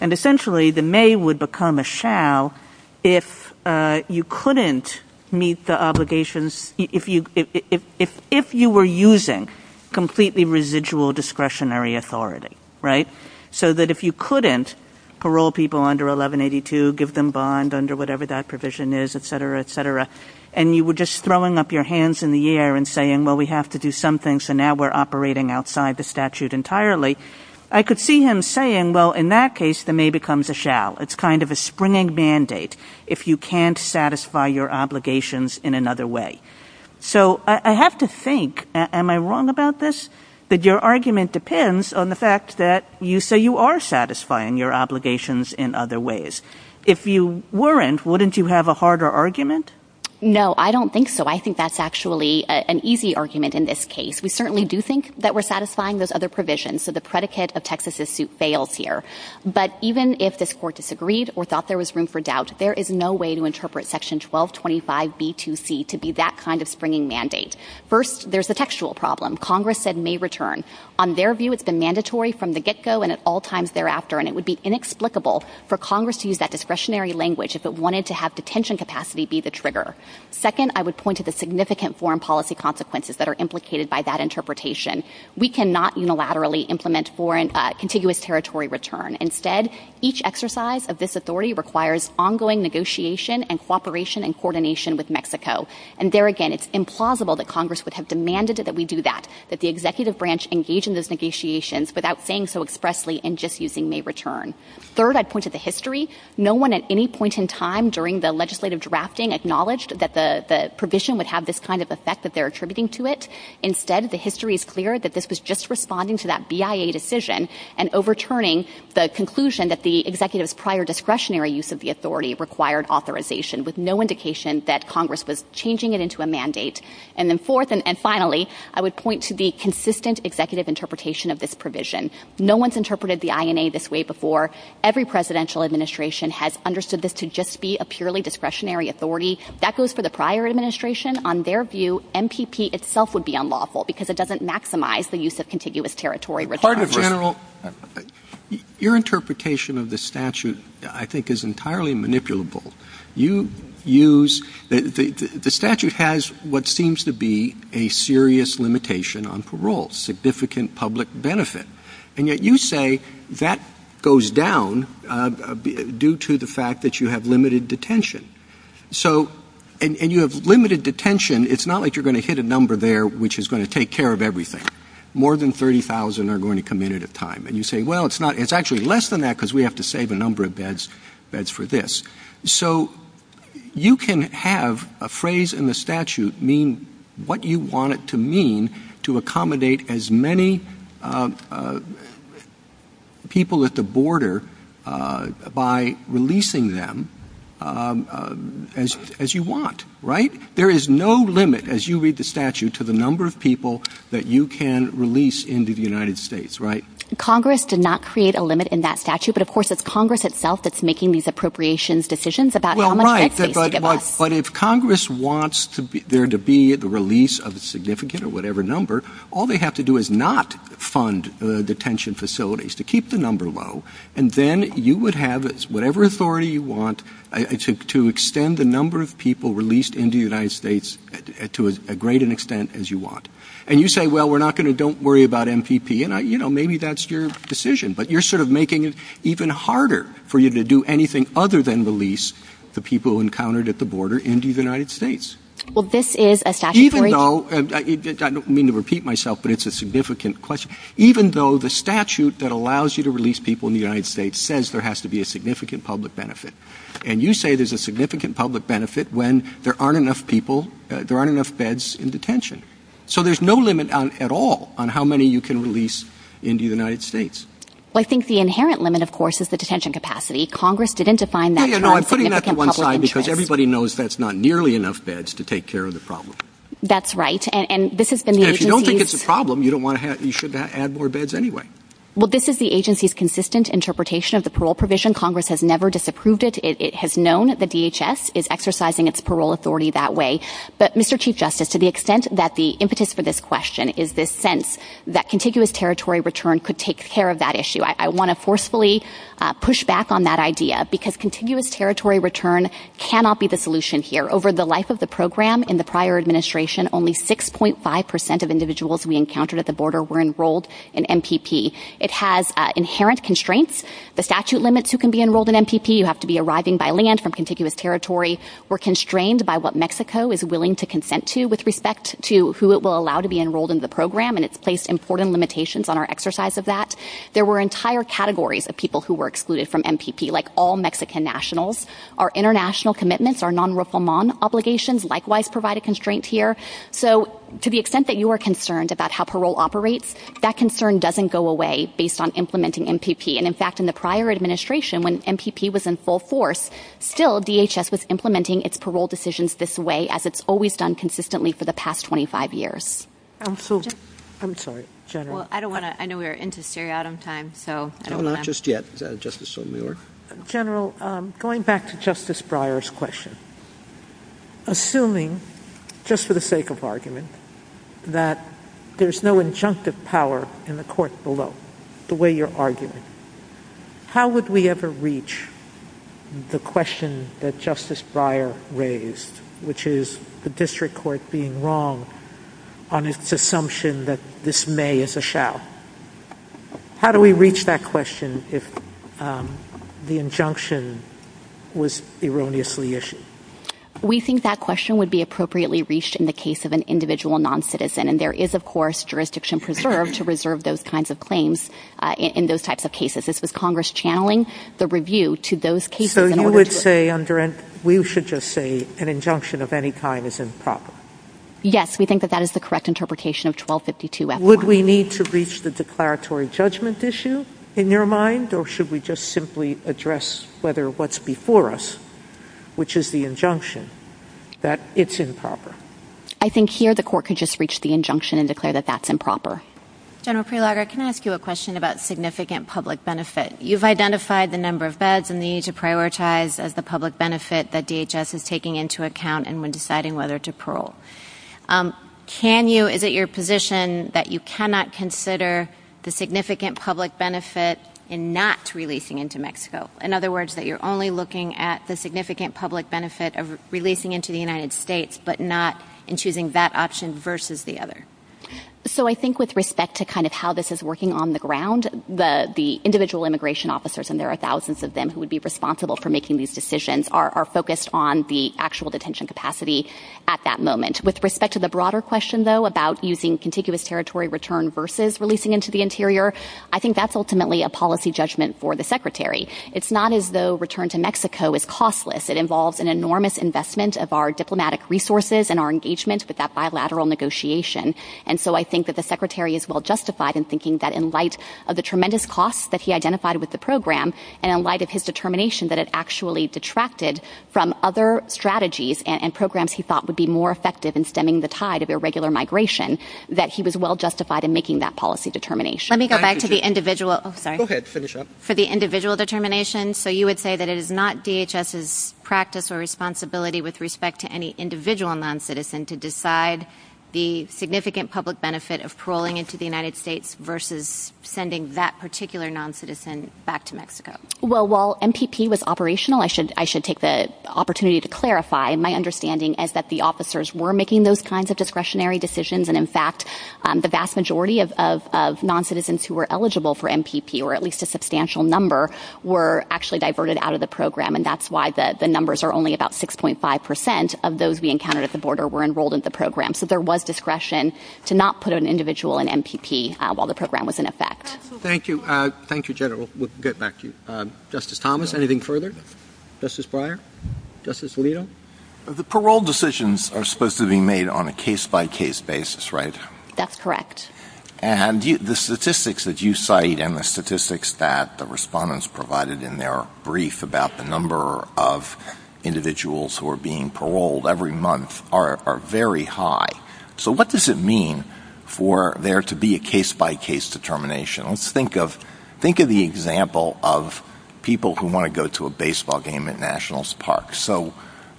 Essentially, the May would become a shall if you couldn't meet the obligations, if you were using completely residual discretionary authority, so that if you couldn't parole people under 1182, give them bond under whatever that provision is, et cetera, et cetera, and you were just throwing up your hands in the air and saying, well, we have to do something, so now we're operating outside the statute entirely. I could see him saying, well, in that case, the May becomes a shall. It's kind of a springing mandate if you can't satisfy your obligations in another way. So I have to think, am I wrong about this? But your argument depends on the fact that you say you are satisfying your obligations in other ways. If you weren't, wouldn't you have a harder argument? No, I don't think so. I think that's actually an easy argument in this case. We certainly do think that we're satisfying those other provisions, so the predicate of Texas's suit fails here. But even if this court disagreed or thought there was room for doubt, there is no way to interpret section 1225B2C to be that kind of springing mandate. First, there's a textual problem. Congress said May return. On their view, it's been mandatory from the get-go and at all times thereafter, and it would be inexplicable for Congress to use that discretionary language if it wanted to have detention capacity be the trigger. Second, I would point to the significant foreign policy consequences that are implicated by that interpretation. We cannot unilaterally implement foreign contiguous territory return. Instead, each exercise of this authority requires ongoing negotiation and cooperation and coordination with Mexico. And there again, it's implausible that Congress would have demanded that we do that, that the executive branch engage in those negotiations without saying so expressly and just using May return. Third, I'd point to the history. No one at any point in time during the legislative drafting acknowledged that the provision would have this kind of effect that they're attributing to it. Instead, the history is clear that this was just responding to that BIA decision and overturning the conclusion that the executive's prior discretionary use of the authority required authorization with no indication that Congress was changing it into a mandate. And then fourth, and finally, I would point to the consistent executive interpretation of this provision. No one's interpreted the INA this way before. Every presidential administration has understood this to just be a purely discretionary authority. That goes for the prior administration. On their view, MPP itself would be unlawful because it doesn't maximize the use of contiguous territory. Pardon me, General. Your interpretation of the statute, I think, is entirely manipulable. You use the statute has what seems to be a serious limitation on parole, significant public benefit. And yet you say that goes down due to the fact that you have limited detention. So and you have limited detention. It's not like you're going to hit a number there which is going to take care of everything. More than 30,000 are going to come in at a time. And you say, well, it's not. It's actually less than that because we have to save a number of beds for this. So you can have a phrase in the statute mean what you want it to mean to accommodate as many people at the border by releasing them as you want, right? There is no limit, as you read the statute, to the number of people that you can release into the United States, right? Congress did not create a limit in that statute. But of course, it's Congress itself that's making these appropriations decisions about But if Congress wants to be there to be the release of a significant or whatever number, all they have to do is not fund detention facilities to keep the number low. And then you would have whatever authority you want to extend the number of people released into the United States to as great an extent as you want. And you say, well, we're not going to. Don't worry about MPP. And you know, maybe that's your decision. But you're sort of making it even harder for you to do anything other than release the people encountered at the border into the United States. Well, this is a statutory... Even though, I don't mean to repeat myself, but it's a significant question. Even though the statute that allows you to release people in the United States says there has to be a significant public benefit. And you say there's a significant public benefit when there aren't enough people, there aren't enough beds in detention. So there's no limit at all on how many you can release into the United States. Well, I think the inherent limit, of course, is the detention capacity. Congress didn't define that... No, no, no. I'm putting that to one side because everybody knows that's not nearly enough beds to take care of the problem. That's right. And this has been... If you don't think it's a problem, you don't want to have... You should add more beds anyway. Well, this is the agency's consistent interpretation of the parole provision. Congress has never disapproved it. It has known the DHS is exercising its parole authority that way. But Mr. Chief Justice, to the extent that the impetus for this question is this sense that contiguous territory return could take care of that issue, I want to forcefully push back on that idea because contiguous territory return cannot be the solution here. Over the life of the program in the prior administration, only 6.5% of individuals we encountered at the border were enrolled in MPP. It has inherent constraints. The statute limits who can be enrolled in MPP. You have to be arriving by land from contiguous territory. We're constrained by what Mexico is willing to consent to with respect to who it will allow to be enrolled in the program, and it's placed important limitations on our exercise of that. There were entire categories of people who were excluded from MPP, like all Mexican nationals. Our international commitments, our non-refoulement obligations likewise provided constraints here. So to the extent that you are concerned about how parole operates, that concern doesn't go away based on implementing MPP. In fact, in the prior administration, when MPP was in full force, still DHS was implementing its parole decisions this way, as it's always done consistently for the past 25 years. I'm sorry, General. I know we're into stereotime, so I don't know. Not just yet. General, going back to Justice Breyer's question, assuming, just for the sake of argument, that there's no injunctive power in the court below, the way you're arguing, how would we ever reach the question that Justice Breyer raised, which is the district court being wrong on its assumption that this may as a shall? How do we reach that question if the injunction was erroneously issued? We think that question would be appropriately reached in the case of an individual non-citizen, and there is, of course, jurisdiction preserved to reserve those kinds of claims in those types of cases. This was Congress channeling the review to those cases. So you would say, we should just say an injunction of any kind is improper? Yes, we think that that is the correct interpretation of 1252-F1. Would we need to reach the declaratory judgment issue in your mind, or should we just simply address whether what's before us, which is the injunction, that it's improper? I think here, the court could just reach the injunction and declare that that's improper. General Prelogar, can I ask you a question about significant public benefit? You've identified the number of beds and the need to prioritize the public benefit that DHS is taking into account and when deciding whether to parole. Can you, is it your position that you cannot consider the significant public benefit in not releasing into Mexico? In other words, that you're only looking at the significant public benefit of releasing into the United States, but not in choosing that option versus the other? So I think with respect to kind of how this is working on the ground, the individual immigration officers, and there are thousands of them who would be responsible for making these decisions, are focused on the actual detention capacity at that moment. With respect to the broader question, though, about using contiguous territory return versus releasing into the interior, I think that's ultimately a policy judgment for the Secretary. It's not as though return to Mexico is costless. It involves an enormous investment of our diplomatic resources and our engagement with that bilateral negotiation. And so I think that the Secretary is well-justified in thinking that in light of the tremendous costs that he identified with the program, and in light of his determination that it actually detracted from other strategies and programs he thought would be more effective in stemming the tide of irregular migration, that he was well-justified in making that policy determination. Let me go back to the individual, sorry. Go ahead, finish up. For the individual determination, so you would say that it is not DHS's practice or responsibility with respect to any individual noncitizen to decide the significant public benefit of paroling into the United States versus sending that particular noncitizen back to Mexico? Well, while MPP was operational, I should take the opportunity to clarify my understanding is that the officers were making those kinds of discretionary decisions, and in fact, the number were actually diverted out of the program, and that's why the numbers are only about 6.5% of those we encountered at the border were enrolled in the program. So there was discretion to not put an individual in MPP while the program was in effect. Thank you. Thank you, General. We'll get back to you. Justice Thomas, anything further? Justice Breyer? Justice Alito? The parole decisions are supposed to be made on a case-by-case basis, right? That's correct. And the statistics that you cite and the statistics that the respondents provided in their brief about the number of individuals who are being paroled every month are very high. So what does it mean for there to be a case-by-case determination? Let's think of the example of people who want to go to a baseball game at Nationals Park. So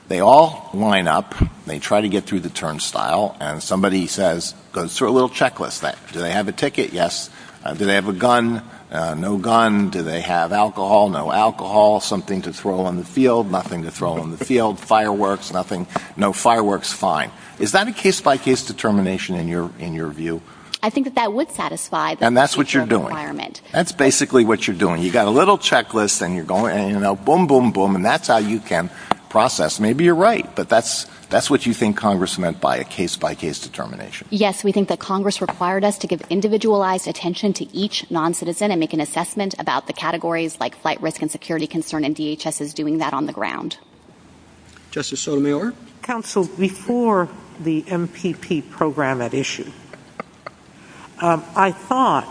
they all line up, they try to get through the turnstile, and somebody goes through a checklist. Do they have a ticket? Yes. Do they have a gun? No gun. Do they have alcohol? No alcohol. Something to throw in the field? Nothing to throw in the field. Fireworks? Nothing. No fireworks. Fine. Is that a case-by-case determination in your view? I think that that would satisfy the requirement. And that's what you're doing. That's basically what you're doing. You've got a little checklist, and you're going boom, boom, boom, and that's how you can process. Maybe you're right, but that's what you think Congress meant by a case-by-case determination. Yes, we think that Congress required us to give individualized attention to each non-citizen and make an assessment about the categories like flight risk and security concern, and DHS is doing that on the ground. Justice Sotomayor? Counsel, before the MPP program at issue, I thought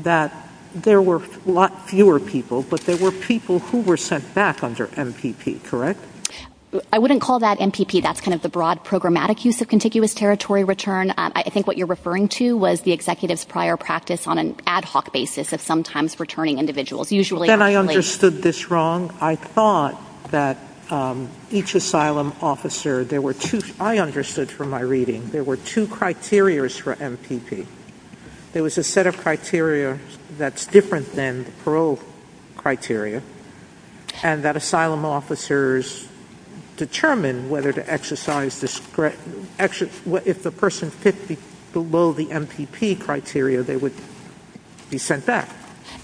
that there were a lot fewer people, but there were people who were sent back under MPP, correct? I wouldn't call that MPP. That's kind of the broad programmatic use of contiguous territory return. I think what you're referring to was the executive's prior practice on an ad hoc basis of sometimes returning individuals. Then I understood this wrong. I thought that each asylum officer, there were two, I understood from my reading, there were two criterias for MPP. There was a set of criteria that's different than the parole criteria, and that asylum officers determine whether to exercise discretion, if the person fits below the MPP criteria, they would be sent back.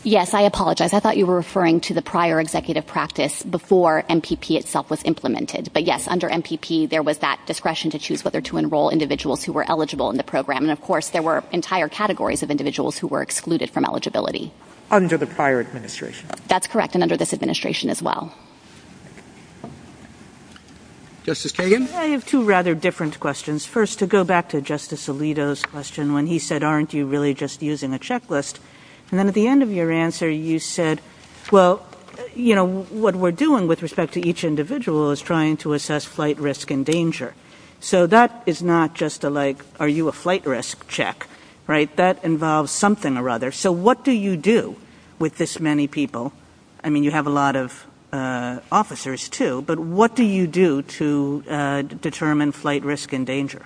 Yes, I apologize. I thought you were referring to the prior executive practice before MPP itself was implemented, but yes, under MPP, there was that discretion to choose whether to enroll individuals who were eligible in the program, and of course, there were entire categories of individuals who were excluded from eligibility. Under the prior administration. That's correct, and under this administration as well. Justice Triggin? I have two rather different questions. First, to go back to Justice Alito's question, when he said, aren't you really just using a checklist, and then at the end of your answer, you said, well, you know, what we're doing with respect to each individual is trying to assess flight risk and danger. So that is not just a like, are you a flight risk check, right? That involves something or other. So what do you do with this many people? I mean, you have a lot of officers too, but what do you do to determine flight risk and danger?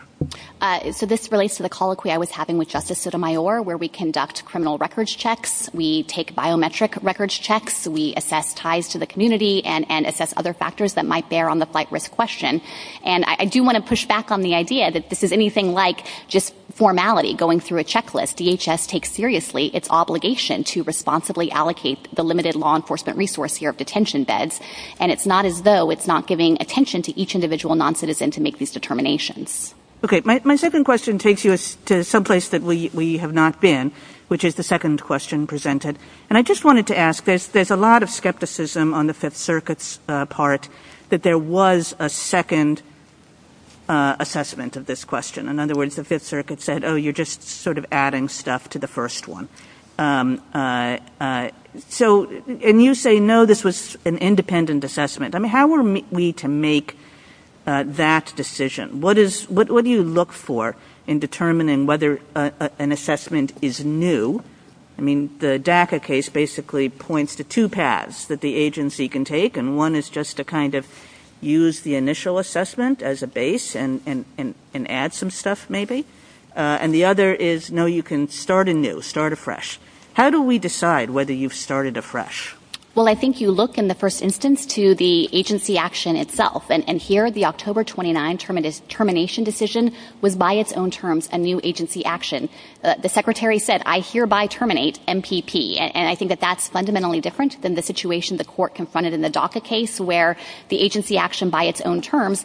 So this relates to the colloquy I was having with Justice Sotomayor, where we conduct criminal records checks. We take biometric records checks. We assess ties to the community and assess other factors that might bear on the flight risk question, and I do want to push back on the idea that this is anything like just formality, going through a checklist. DHS takes seriously its obligation to responsibly allocate the limited law enforcement resource here of detention beds, and it's not as though it's not giving attention to each individual noncitizen to make these determinations. Okay, my second question takes you to someplace that we have not been, which is the second question presented, and I just wanted to ask this. There's a lot of skepticism on the Fifth Circuit's part that there was a second assessment of this question. In other words, the Fifth Circuit said, oh, you're just sort of adding stuff to the first one. So, and you say, no, this was an independent assessment. I mean, how are we to make that decision? What do you look for in determining whether an assessment is new? I mean, the DACA case basically points to two paths that the agency can take, and one is just to kind of use the initial assessment as a base and add some stuff maybe, and the other is, no, you can start anew, start afresh. How do we decide whether you've started afresh? Well, I think you look in the first instance to the agency action itself, and here the October 29 termination decision was by its own terms a new agency action. The Secretary said, I hereby terminate MPP, and I think that that's fundamentally different than the situation the court confronted in the DACA case where the agency action by its own terms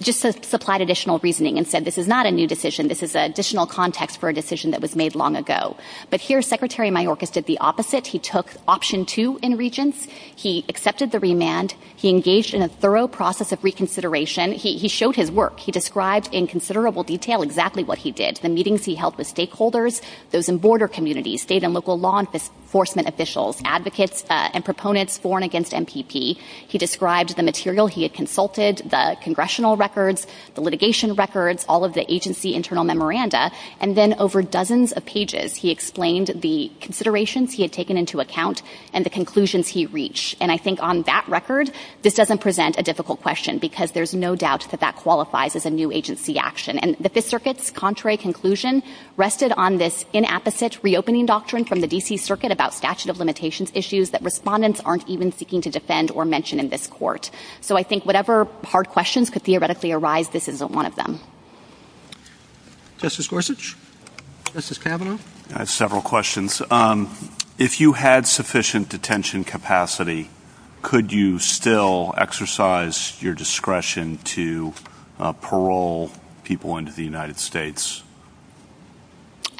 just supplied additional reasoning and said, this is not a new decision. This is an additional context for a decision that was made long ago. But here Secretary Mayorkas did the opposite. He took option two in Regents. He accepted the remand. He engaged in a thorough process of reconsideration. He showed his work. He described in considerable detail exactly what he did, the meetings he held with stakeholders, those in border communities, state and local law enforcement officials, advocates, and proponents for and against MPP. He described the material he had consulted, the congressional records, the litigation records, all of the agency internal memoranda. And then over dozens of pages, he explained the considerations he had taken into account and the conclusions he reached. And I think on that record, this doesn't present a difficult question because there's no doubt that that qualifies as a new agency action. And the Fifth Circuit's contrary conclusion rested on this inapposite reopening doctrine from the D.C. Circuit about statute of limitations issues that respondents aren't even seeking to defend or mention in this court. So I think whatever hard questions could theoretically arise, this isn't one of them. MR. Justice Gorsuch, Justice Kavanaugh. MR. GORSUCH. I have several questions. If you had sufficient detention capacity, could you still exercise your discretion to parole people into the United States? TAYLOR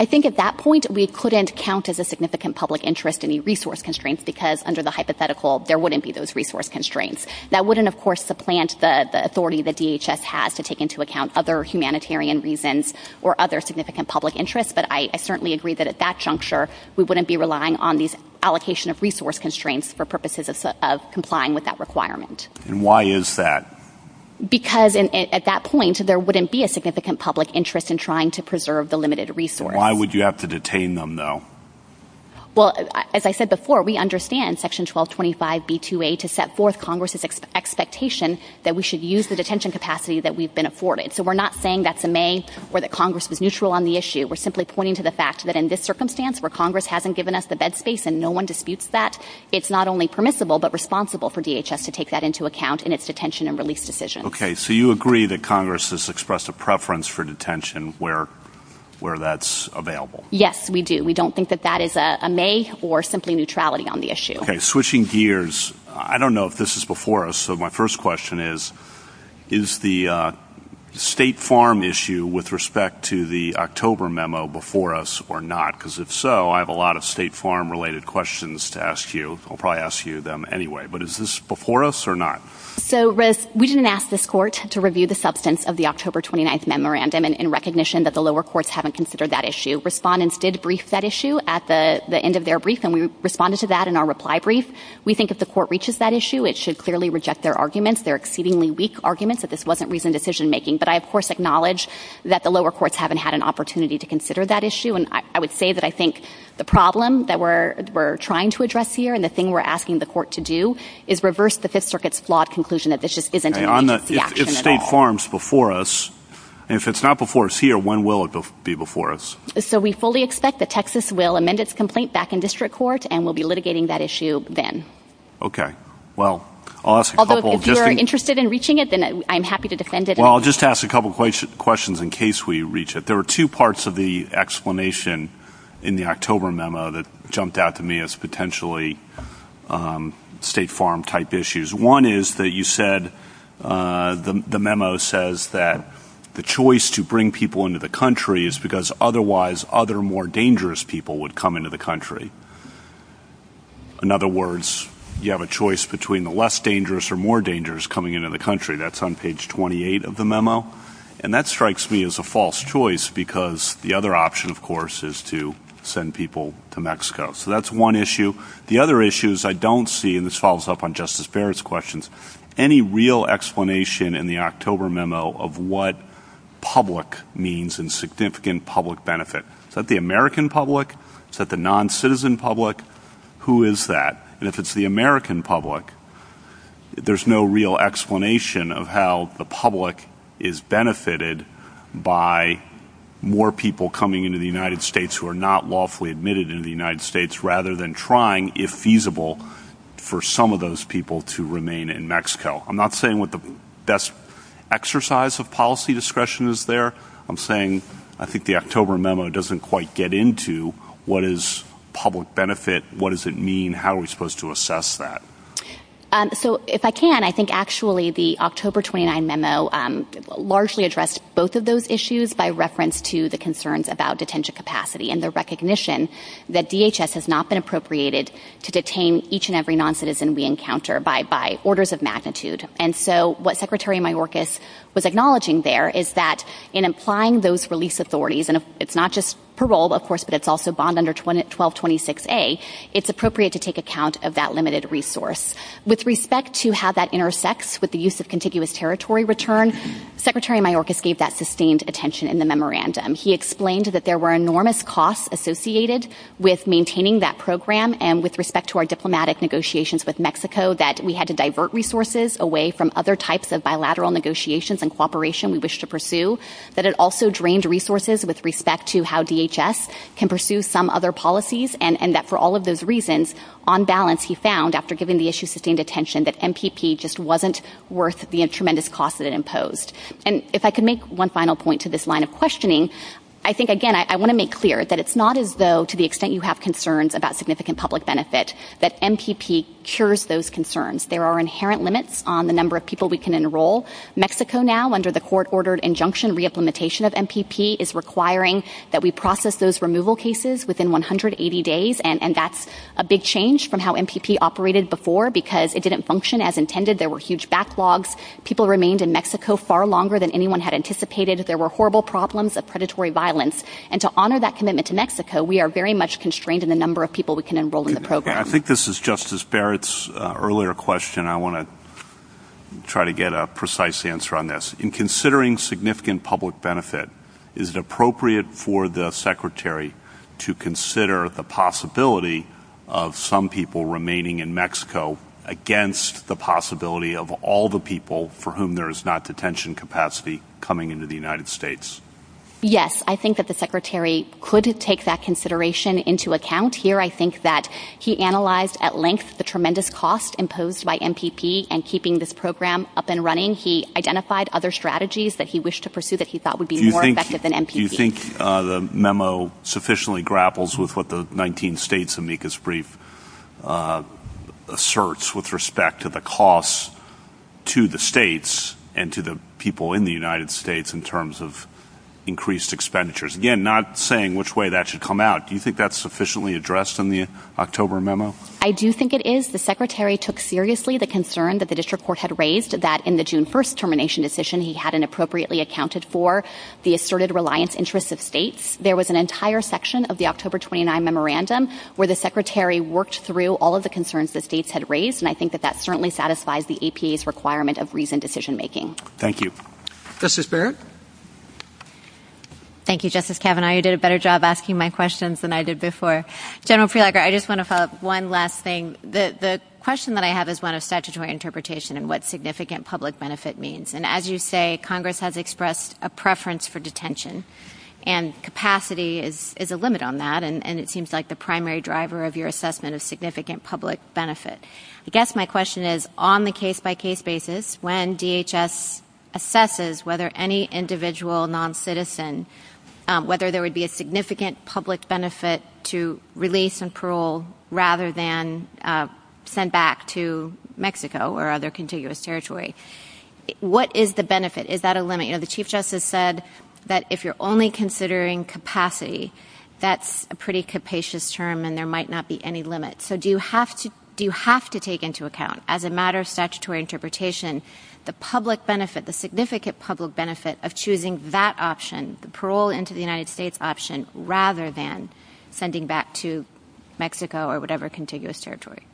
I think at that point, we couldn't count as a significant public interest any resource constraints because under the hypothetical, there wouldn't be those resource constraints. That wouldn't, of course, supplant the authority that DHS has to take into account other humanitarian reasons or other significant public interests. But I certainly agree that at that juncture, we wouldn't be relying on these allocation of resource constraints for purposes of complying with that requirement. MR. GORSUCH. Why is that? TAYLOR At that point, there wouldn't be a significant public interest in trying to preserve the limited resource. MR. GORSUCH. Why would you have to detain them, though? TAYLOR Well, as I said before, we understand Section 1225B2A to set forth Congress's expectation that we should use the detention capacity that we've been afforded. So we're not saying that's a may or that Congress is neutral on the issue. We're simply pointing to the fact that in this circumstance where Congress hasn't given us the bed space and no one disputes that, it's not only permissible but responsible for DHS to take that into account in its detention and release decision. MR. GORSUCH. Congress has expressed a preference for detention where that's available. TAYLOR Yes, we do. We don't think that that is a may or simply neutrality on the issue. MR. GORSUCH. Switching gears, I don't know if this is before us. So my first question is, is the State Farm issue with respect to the October memo before us or not? Because if so, I have a lot of State Farm-related questions to ask you. I'll probably ask you them anyway. But is this before us or not? TAYLOR So, Russ, we didn't ask this Court to review the substance of the October 29th memorandum in recognition that the lower courts haven't considered that issue. Respondents did brief that issue at the end of their brief, and we responded to that in our reply brief. We think if the Court reaches that issue, it should clearly reject their arguments. They're exceedingly weak arguments that this wasn't reasoned decision-making. But I, of course, acknowledge that the lower courts haven't had an opportunity to consider that issue. And I would say that I think the problem that we're trying to address here and the thing we're asking the Court to do is reverse the Fifth Circuit's flawed conclusion that this just isn't in line with the action at all. If State Farm's before us, and if it's not before us here, when will it be before us? TAYLOR So, we fully expect that Texas will amend its complaint back in District Court, and we'll be litigating that issue then. Although, if you're interested in reaching it, then I'm happy to defend it. Well, I'll just ask a couple of questions in case we reach it. There were two parts of the explanation in the October memo that jumped out to me as potentially State Farm-type issues. One is that you said, the memo says that the choice to bring people into the country is because otherwise other more dangerous people would come into the country. In other words, you have a choice between the less dangerous or more dangerous coming into the country. That's on page 28 of the memo. And that strikes me as a false choice because the other option, of course, is to send people to Mexico. So, that's one issue. The other issue is I don't see, and this follows up on Justice Barrett's questions, any real explanation in the October memo of what public means and significant public benefit. Is that the American public? Is that the non-citizen public? Who is that? And if it's the American public, there's no real explanation of how the public is benefited by more people coming into the United States who are not lawfully admitted into the United States and trying, if feasible, for some of those people to remain in Mexico. I'm not saying what the best exercise of policy discretion is there. I'm saying I think the October memo doesn't quite get into what is public benefit, what does it mean, how are we supposed to assess that? So, if I can, I think actually the October 29 memo largely addressed both of those issues by reference to the concerns about detention capacity and the recognition that DHS has not been appropriated to detain each and every non-citizen we encounter by orders of magnitude. And so, what Secretary Mayorkas was acknowledging there is that in applying those release authorities, and it's not just parole, of course, but it's also bond under 1226A, it's appropriate to take account of that limited resource. With respect to how that intersects with the use of contiguous territory return, Secretary Mayorkas gave that sustained attention in the memorandum. He explained that there were enormous costs associated with maintaining that program and with respect to our diplomatic negotiations with Mexico, that we had to divert resources away from other types of bilateral negotiations and cooperation we wish to pursue, that it also drained resources with respect to how DHS can pursue some other policies, and that for all of those reasons, on balance, he found, after giving the issue sustained attention, that MPP just wasn't worth the tremendous cost that it imposed. And if I could make one final point to this line of questioning, I think, again, I want to make clear that it's not as though, to the extent you have concerns about significant public benefit, that MPP cures those concerns. There are inherent limits on the number of people we can enroll. Mexico now, under the court-ordered injunction re-implementation of MPP, is requiring that we process those removal cases within 180 days, and that's a big change from how MPP operated before because it didn't function as intended. There were huge backlogs. People remained in Mexico far longer than anyone had anticipated. There were horrible problems of predatory violence. And to honor that commitment to Mexico, we are very much constrained in the number of people we can enroll in the program. I think this is Justice Barrett's earlier question. I want to try to get a precise answer on this. In considering significant public benefit, is it appropriate for the Secretary to consider the possibility of some people remaining in Mexico against the possibility of all the people for whom there is not detention capacity coming into the United States? Yes, I think that the Secretary could take that consideration into account here. I think that he analyzed at length the tremendous costs imposed by MPP in keeping this program up and running. He identified other strategies that he wished to pursue that he thought would be more effective than MPP. Do you think the memo sufficiently grapples with what the 19 states' amicus brief asserts with respect to the costs to the states and to the people in the United States in terms of increased expenditures? Again, not saying which way that should come out. Do you think that's sufficiently addressed in the October memo? I do think it is. The Secretary took seriously the concern that the district court had raised that in the June 1st termination decision, he hadn't appropriately accounted for the asserted reliance interests of states. There was an entire section of the October 29 memorandum where the Secretary worked through all of the concerns the states had raised, and I think that that certainly satisfies the APA's requirement of reasoned decision making. Thank you. Justice Barrett? Thank you, Justice Kavanaugh. You did a better job asking my questions than I did before. General Prelogar, I just want to follow up one last thing. The question that I have is one of statutory interpretation and what significant public benefit means. As you say, Congress has expressed a preference for detention, and capacity is a limit on that, and it seems like the primary driver of your assessment is significant public benefit. I guess my question is, on the case-by-case basis, when DHS assesses whether any individual noncitizen – whether there would be a significant public benefit to release and parole rather than send back to Mexico or other contiguous territory, what is the benefit? Is that a limit? The Chief Justice said that if you're only considering capacity, that's a pretty capacious term and there might not be any limit. So do you have to take into account, as a matter of statutory interpretation, the public benefit, the significant public benefit of choosing that option, the parole into the territory?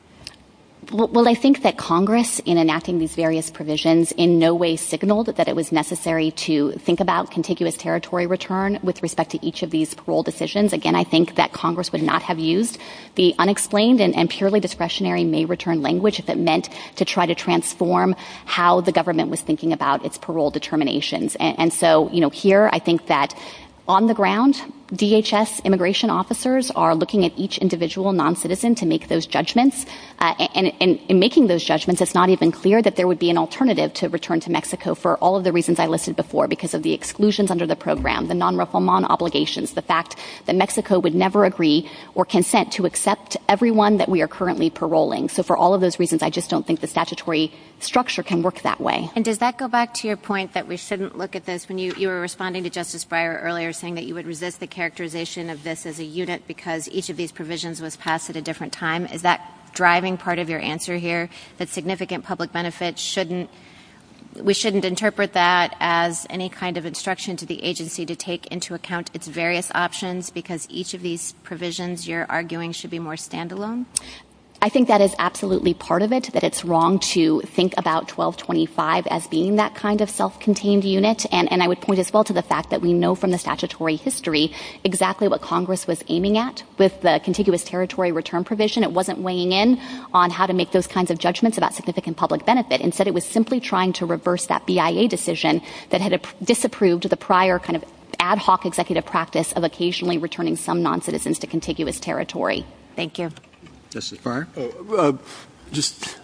Well, I think that Congress, in enacting these various provisions, in no way signaled that it was necessary to think about contiguous territory return with respect to each of these parole decisions. Again, I think that Congress would not have used the unexplained and purely discretionary main return language if it meant to try to transform how the government was thinking about its parole determinations. And so, you know, here, I think that on the ground, DHS immigration officers are looking at each individual noncitizen to make those judgments. And in making those judgments, it's not even clear that there would be an alternative to return to Mexico for all of the reasons I listed before, because of the exclusions under the program, the nonraquaman obligations, the fact that Mexico would never agree or consent to accept everyone that we are currently paroling. So for all of those reasons, I just don't think the statutory structure can work that way. And does that go back to your point that we shouldn't look at this? When you were responding to Justice Breyer earlier saying that you would resist the provisions was passed at a different time. Is that driving part of your answer here? That significant public benefits shouldn't, we shouldn't interpret that as any kind of instruction to the agency to take into account its various options because each of these provisions you're arguing should be more standalone? I think that is absolutely part of it, that it's wrong to think about 1225 as being that kind of self-contained unit. And I would point as well to the fact that we know from the statutory history exactly what Congress was aiming at with the contiguous territory return provision. It wasn't weighing in on how to make those kinds of judgments about significant public benefit. Instead, it was simply trying to reverse that BIA decision that had disapproved the prior kind of ad hoc executive practice of occasionally returning some noncitizens to contiguous territory. Thank you. Justice Breyer? Just,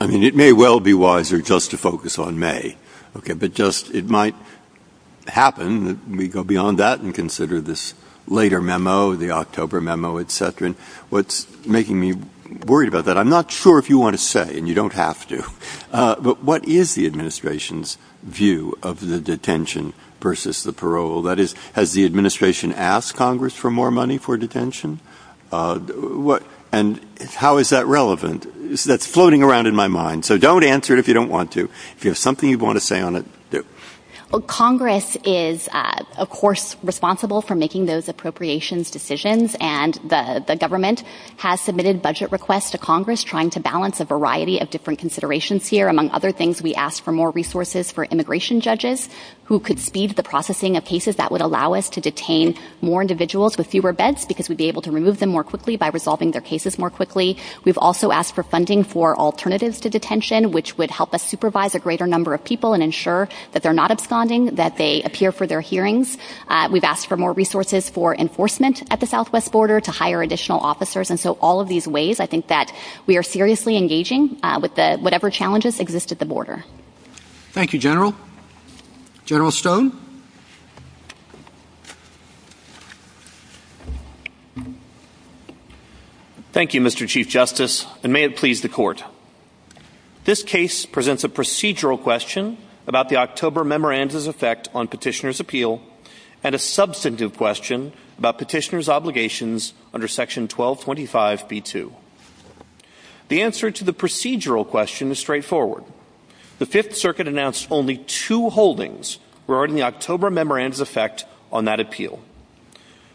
I mean, it may well be wiser just to focus on May. Okay, but just it might happen that we go beyond that and consider this later memo, the October memo, et cetera. What's making me worried about that? I'm not sure if you want to say, and you don't have to, but what is the administration's view of the detention versus the parole? That is, has the administration asked Congress for more money for detention? And how is that relevant? That's floating around in my mind. So don't answer it if you don't want to. If you have something you want to say on it. Congress is, of course, responsible for making those appropriations decisions. And the government has submitted budget requests to Congress trying to balance a variety of different considerations here. Among other things, we asked for more resources for immigration judges who could speed the processing of cases that would allow us to detain more individuals with fewer beds because we'd be able to remove them more quickly by resolving their cases more quickly. We've also asked for funding for alternatives to detention, which would help us supervise a greater number of people and ensure that they're not absconding, that they appear for their hearings. We've asked for more resources for enforcement at the southwest border to hire additional officers. And so all of these ways, I think that we are seriously engaging with whatever challenges exist at the border. Thank you, General. General Stone. Thank you, Mr. Chief Justice, and may it please the Court. This case presents a procedural question about the October memoranda's effect on petitioner's appeal and a substantive question about petitioner's obligations under Section 1225b2. The answer to the procedural question is straightforward. The Fifth Circuit announced only two holdings were in the October memoranda's effect on that appeal.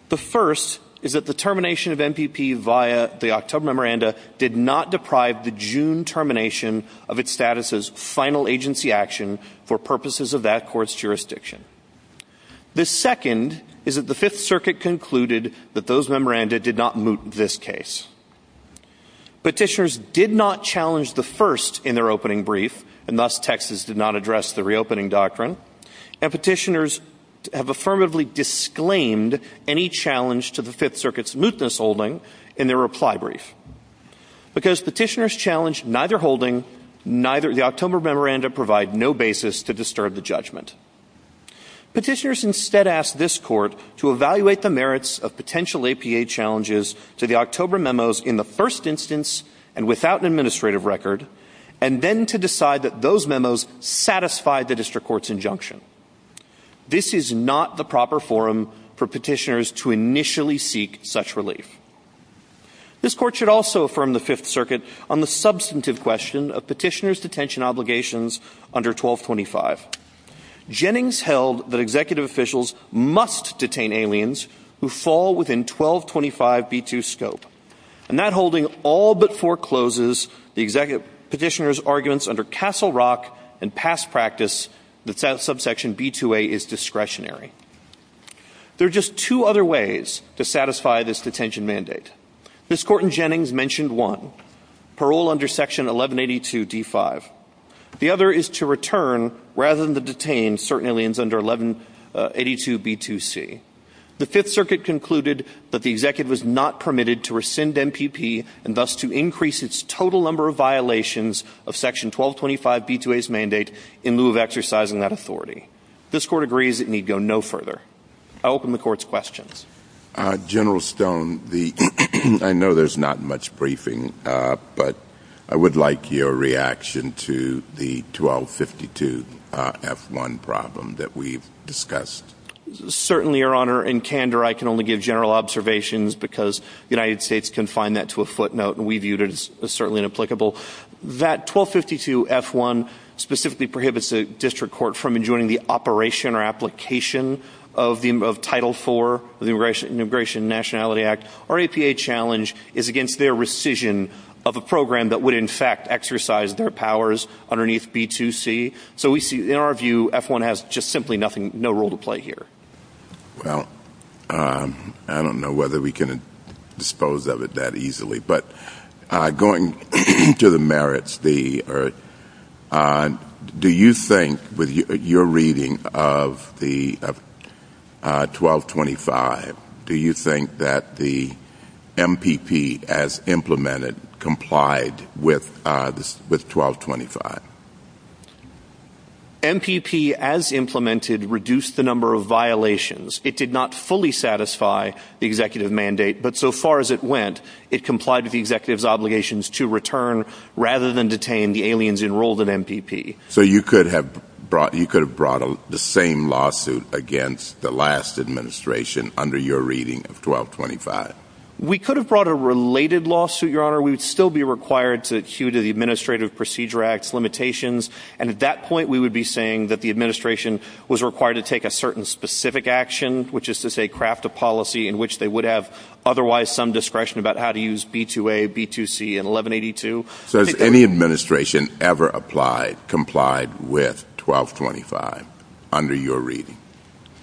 The first is that the termination of MPP via the October memoranda did not deprive the June termination of its status as final agency action for purposes of that court's jurisdiction. The second is that the Fifth Circuit concluded that those memoranda did not moot this case. Petitioners did not challenge the first in their opening brief, and thus Texas did not address the reopening doctrine. And petitioners have affirmatively disclaimed any challenge to the Fifth Circuit's mootness holding in their reply brief. Because petitioners challenged neither holding, the October memoranda provide no basis to disturb the judgment. Petitioners instead asked this court to evaluate the merits of potential APA challenges to the October memos in the first instance and without an administrative record, and then to decide that those memos satisfied the district court's injunction. This is not the proper forum for petitioners to initially seek such relief. This court should also affirm the Fifth Circuit on the substantive question of petitioner's detention obligations under 1225. Jennings held that executive officials must detain aliens who fall within 1225 B-2 scope, and that holding all but forecloses the executive petitioner's arguments under Castle Rock and past practice that that subsection B-2A is discretionary. There are just two other ways to satisfy this detention mandate. Ms. Corton-Jennings mentioned one, parole under section 1182 D-5. The other is to return rather than to detain certain aliens under 1182 B-2C. The Fifth Circuit concluded that the executive was not permitted to rescind MPP and thus to increase its total number of violations of section 1225 B-2A's mandate in lieu of exercising that authority. This court agrees it need go no further. I open the court's questions. General Stone, I know there's not much briefing, but I would like your reaction to the 1252 F-1 problem that we've discussed. Certainly, Your Honor. In candor, I can only give general observations because the United States can find that to a footnote, and we viewed it as certainly inapplicable. That 1252 F-1 specifically prohibits the district court from enjoining the operation or application of Title IV of the Immigration and Nationality Act or APA challenge is against their rescission of a program that would, in fact, exercise their powers underneath B-2C. So we see, in our view, F-1 has just simply nothing, no role to play here. Well, I don't know whether we can dispose of it that easily, but going to the merits, do you think, with your reading of the 1225, do you think that the MPP, as implemented, complied with 1225? MPP, as implemented, reduced the number of violations. It did not fully satisfy the executive mandate, but so far as it went, it complied with the the aliens enrolled in MPP. So you could have brought the same lawsuit against the last administration under your reading of 1225? We could have brought a related lawsuit, Your Honor. We would still be required to adhere to the Administrative Procedure Act's limitations, and at that point, we would be saying that the administration was required to take a certain specific action, which is to say craft a policy in which they would have otherwise some discretion about how to use B-2A, B-2C, and 1182. So has any administration ever applied, complied with 1225 under your reading?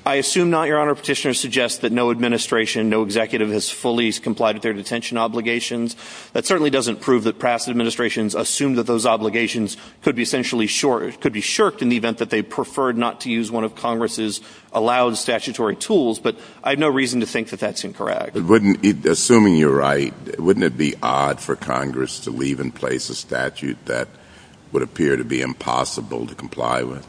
I assume not, Your Honor. Petitioners suggest that no administration, no executive has fully complied with their detention obligations. That certainly doesn't prove that past administrations assumed that those obligations could be essentially shirked in the event that they preferred not to use one of Congress's allowed statutory tools, but I have no reason to think that that's incorrect. Assuming you're right, wouldn't it be odd for Congress to leave in place a statute that would appear to be impossible to comply with?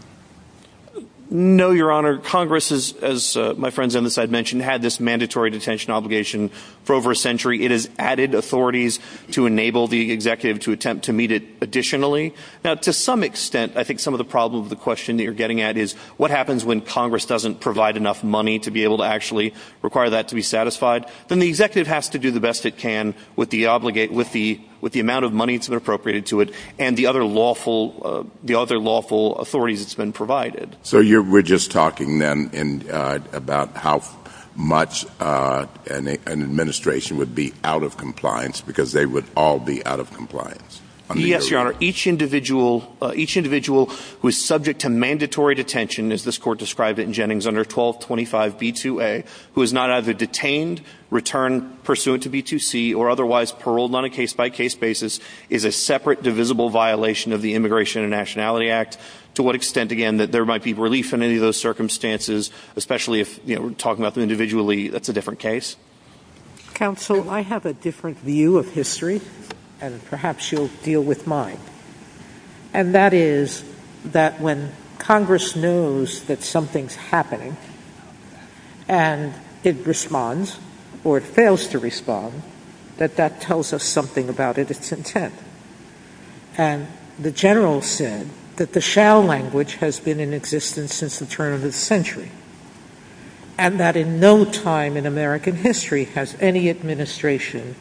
No, Your Honor. Congress, as my friends on this side mentioned, had this mandatory detention obligation for over a century. It has added authorities to enable the executive to attempt to meet it additionally. Now, to some extent, I think some of the problem with the question that you're getting at is what happens when Congress doesn't provide enough money to be able to actually require that to be satisfied? Then the executive has to do the best it can with the amount of money that's been appropriated to it and the other lawful authorities it's been provided. So we're just talking then about how much an administration would be out of compliance because they would all be out of compliance? Yes, Your Honor. Each individual who is subject to mandatory detention, as this court described it in the statute, is either detained, returned pursuant to B2C, or otherwise paroled on a case-by-case basis is a separate divisible violation of the Immigration and Nationality Act. To what extent, again, that there might be relief in any of those circumstances, especially if we're talking about them individually, that's a different case? Counsel, I have a different view of history, and perhaps you'll deal with mine, and that is that when Congress knows that something's happening and it responds, or it fails to respond, that that tells us something about its intent. And the General said that the shall language has been in existence since the turn of the century, and that in no time in American history has any administration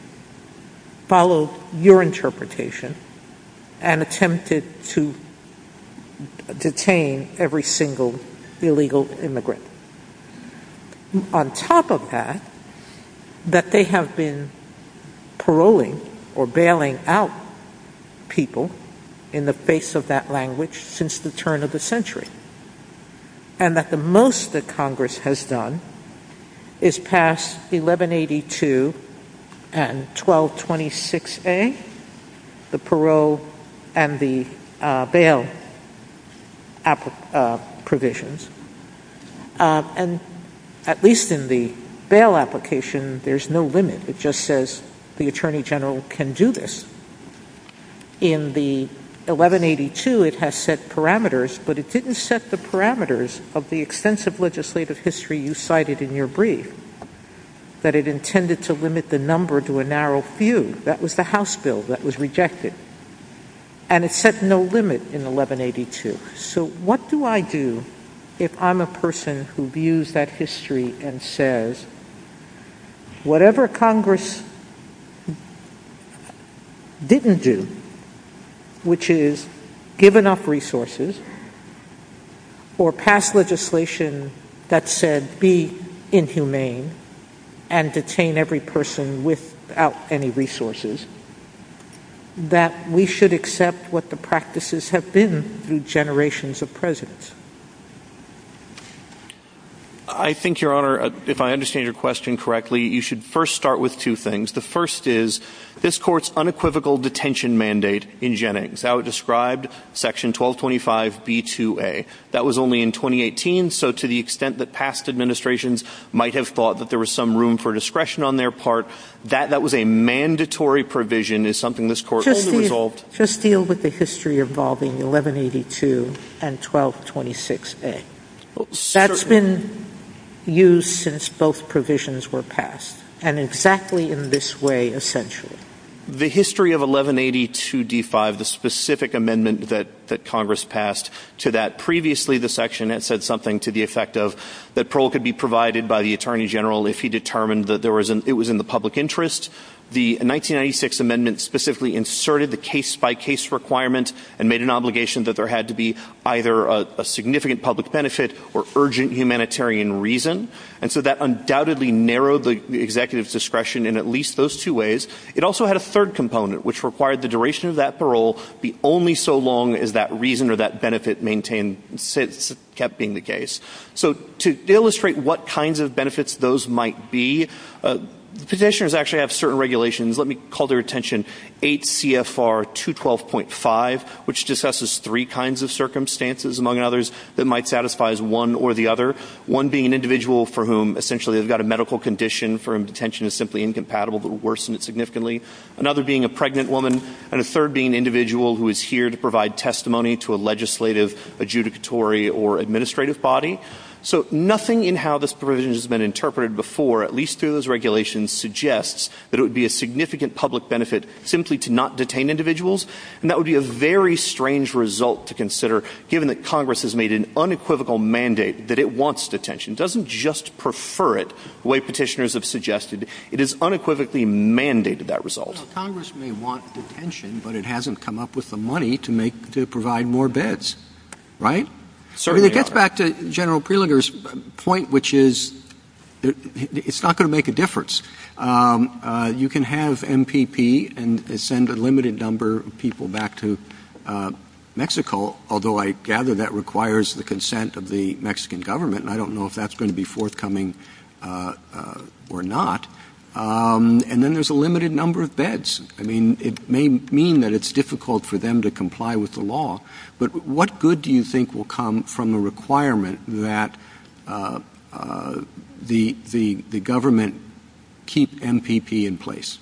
followed your detain every single illegal immigrant. On top of that, that they have been paroling or bailing out people in the face of that language since the turn of the century, and that the most that Congress has done is pass 1182 and 1226A, the parole and the bail provisions. And at least in the bail application, there's no limit. It just says the Attorney General can do this. In the 1182, it has set parameters, but it didn't set the parameters of the extensive legislative history you cited in your brief. That it intended to limit the number to a narrow few. That was the House bill that was rejected. And it set no limit in 1182. So what do I do if I'm a person who views that history and says whatever Congress didn't do, which is give enough resources or pass legislation that said be inhumane, and detain every person without any resources, that we should accept what the practices have been through generations of presidents? I think, Your Honor, if I understand your question correctly, you should first start with two things. The first is, this court's unequivocal detention mandate in Gen X, how it described section 1225B2A. That was only in 2018, so to the extent that past administrations might have thought that there was some room for discretion on their part, that was a mandatory provision, is something this court told the result. Just deal with the history involving 1182 and 1226A. That's been used since both provisions were passed. And exactly in this way, essentially. The history of 1182D5, the specific amendment that Congress passed to that. Previously, the section had said something to the effect of that parole could be provided by the Attorney General if he determined that it was in the public interest. The 1996 amendment specifically inserted the case-by-case requirement and made an obligation that there had to be either a significant public benefit or urgent humanitarian reason. And so that undoubtedly narrowed the executive's discretion in at least those two ways. It also had a third component, which required the duration of that parole be only so long as that reason or that benefit maintained, kept being the case. So to illustrate what kinds of benefits those might be, physicians actually have certain regulations. Let me call their attention. 8 CFR 212.5, which discusses three kinds of circumstances, among others, that might satisfy as one or the other. One being an individual for whom, essentially, they've got a medical condition for whom detention is simply incompatible, but worsened significantly. Another being a pregnant woman. And a third being an individual who is here to provide testimony to a legislative, adjudicatory, or administrative body. So nothing in how this provision has been interpreted before, at least through those regulations, suggests that it would be a significant public benefit simply to not detain individuals. And that would be a very strange result to consider, given that Congress has made an unequivocal mandate that it wants detention. It doesn't just prefer it the way petitioners have suggested. It has unequivocally mandated that result. So Congress may want detention, but it hasn't come up with the money to provide more beds. Right? So it gets back to General Prelinger's point, which is it's not going to make a difference. You can have MPP and send a limited number of people back to Mexico, although I gather that requires the consent of the Mexican government. I don't know if that's going to be forthcoming or not. And then there's a limited number of beds. I mean, it may mean that it's difficult for them to comply with the law. But what good do you think will come from the requirement that the government keep MPP in place?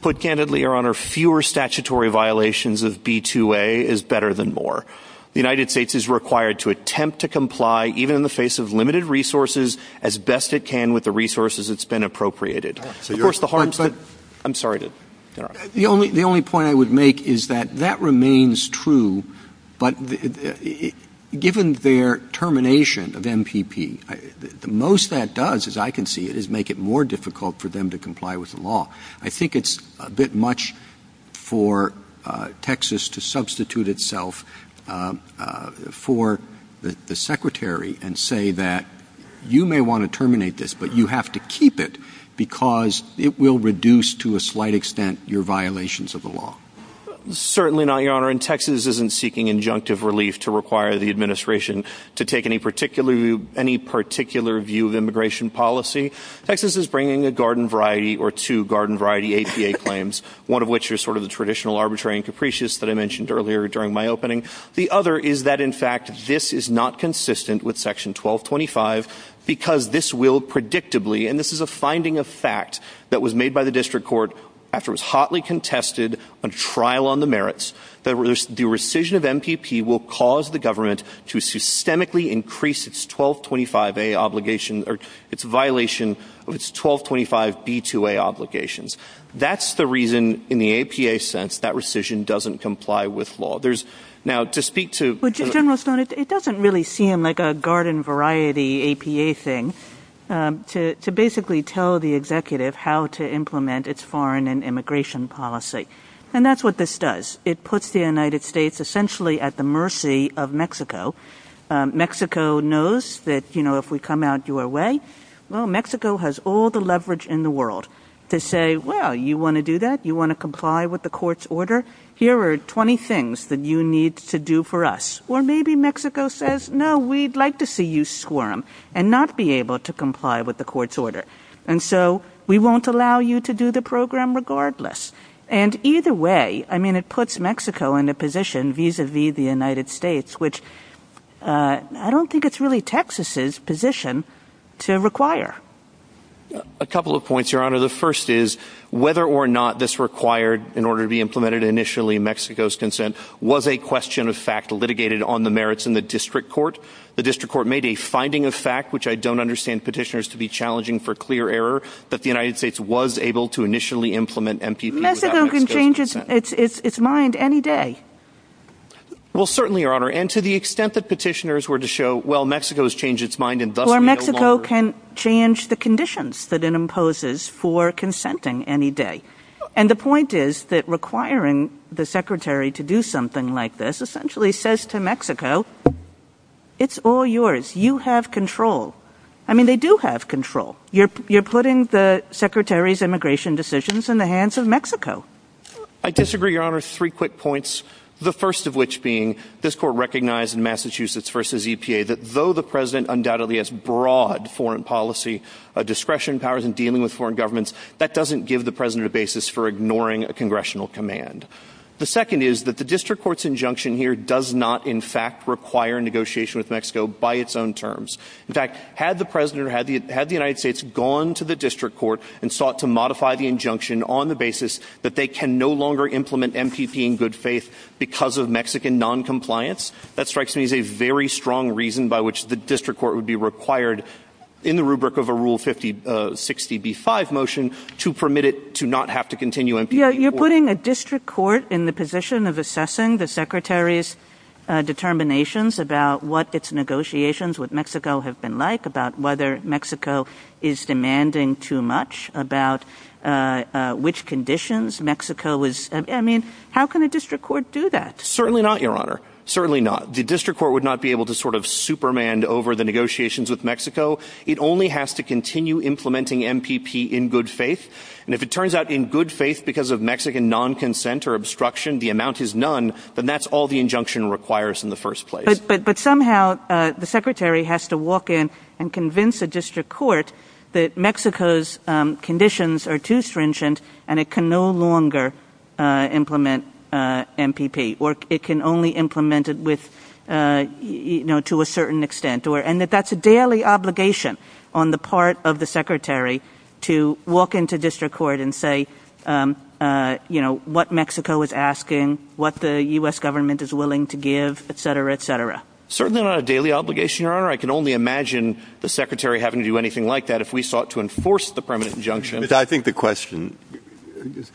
Put candidly, Your Honor, fewer statutory violations of B-2A is better than more. The United States is required to attempt to comply, even in the face of limited resources, as best it can with the resources it's been appropriated. Of course, the hard part—I'm sorry. The only point I would make is that that remains true. But given their termination of MPP, the most that does, as I can see it, is make it more difficult for them to comply with the law. I think it's a bit much for Texas to substitute itself for the Secretary and say that you may want to terminate this, but you have to keep it because it will reduce to a slight extent your violations of the law. Certainly not, Your Honor. And Texas isn't seeking injunctive relief to require the administration to take any particular view of immigration policy. Texas is bringing a garden variety or two garden variety APA claims, one of which is sort of the traditional arbitrary and capricious that I mentioned earlier during my opening. The other is that, in fact, this is not consistent with Section 1225 because this will predictably—and this is a finding of fact that was made by the district court after it was hotly contested on trial on the merits—that the rescission of MPP will cause the government to systemically increase its 1225A obligation or its violation of its 1225B2A obligations. That's the reason, in the APA sense, that rescission doesn't comply with law. Now, to speak to— Well, General Stone, it doesn't really seem like a garden variety APA thing to basically tell the executive how to implement its foreign and immigration policy. And that's what this does. It puts the United States essentially at the mercy of Mexico. Mexico knows that, you know, if we come out your way, well, Mexico has all the leverage in the world to say, well, you want to do that? You want to comply with the court's order? Here are 20 things that you need to do for us. Or maybe Mexico says, no, we'd like to see you squirm and not be able to comply with the court's order. And so we won't allow you to do the program regardless. And either way, I mean, it puts Mexico in a position vis-a-vis the United States, which I don't think it's really Texas's position to require. A couple of points, Your Honor. The first is whether or not this required, in order to be implemented initially, Mexico's consent was a question of fact litigated on the merits in the district court. The district court made a finding of fact, which I don't understand petitioners to be challenging for clear error, that the United States was able to initially implement MPP. Mexico can change its mind any day. Well, certainly, Your Honor. And to the extent that petitioners were to show, well, Mexico has changed its mind and— Or Mexico can change the conditions that it imposes for consenting any day. And the point is that requiring the secretary to do something like this essentially says to Mexico, it's all yours. You have control. I mean, they do have control. You're putting the secretary's immigration decisions in the hands of Mexico. I disagree, Your Honor. Three quick points, the first of which being this court recognized in Massachusetts versus EPA that though the president undoubtedly has broad foreign policy discretion powers in dealing with foreign governments, that doesn't give the president a basis for ignoring a congressional command. The second is that the district court's injunction here does not, in fact, require negotiation with Mexico by its own terms. In fact, had the president, had the United States gone to the district court and sought to modify the injunction on the basis that they can no longer implement MPP in good faith because of Mexican noncompliance, that strikes me as a very strong reason by which the district court would be required in the rubric of a Rule 60b-5 motion to permit it to not have to continue MPP. You're putting a district court in the position of assessing the secretary's determinations about what its negotiations with Mexico have been like, about whether Mexico is demanding too much, about which conditions Mexico is— How can a district court do that? Certainly not, Your Honor. Certainly not. The district court would not be able to superman over the negotiations with Mexico. It only has to continue implementing MPP in good faith. If it turns out in good faith because of Mexican non-consent or obstruction, the amount is none, but that's all the injunction requires in the first place. But somehow, the secretary has to walk in and convince a district court that Mexico's and it can no longer implement MPP, or it can only implement it to a certain extent. And that's a daily obligation on the part of the secretary to walk into district court and say what Mexico is asking, what the U.S. government is willing to give, etc., etc. Certainly not a daily obligation, Your Honor. I can only imagine the secretary having to do anything like that if we sought to enforce the permanent injunction. I think the question is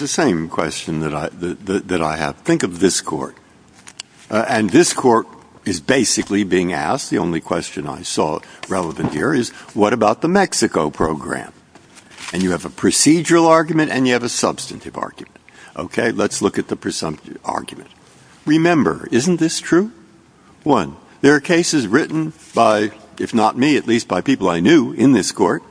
the same question that I have. Think of this court. And this court is basically being asked—the only question I saw relevant here is what about the Mexico program? And you have a procedural argument and you have a substantive argument. OK, let's look at the presumptive argument. Remember, isn't this true? One, there are cases written by, if not me, at least by people I knew in this court,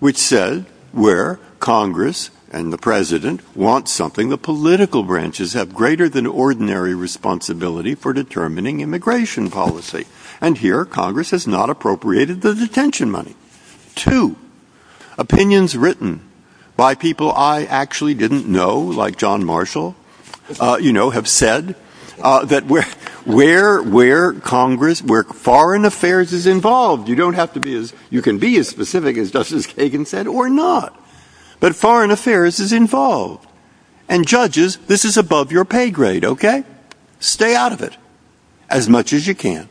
which said where Congress and the president want something the political branches have greater than ordinary responsibility for determining immigration policy. And here Congress has not appropriated the detention money. Two, opinions written by people I actually didn't know, like John Marshall, you know, have said that where Congress, where foreign affairs is involved, you don't have to be you can be as specific as Justice Kagan said or not, but foreign affairs is involved. And judges, this is above your pay grade, OK? Stay out of it as much as you can.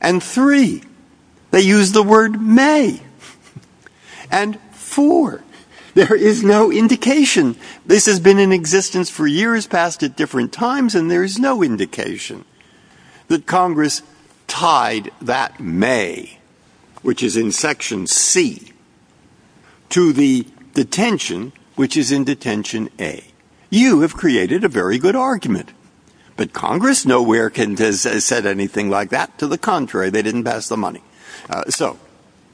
And three, they use the word may. And four, there is no indication. This has been in existence for years past at different times, and there is no indication that Congress tied that may, which is in section C, to the detention, which is in detention A. You have created a very good argument. But Congress nowhere has said anything like that. To the contrary, they didn't pass the money. So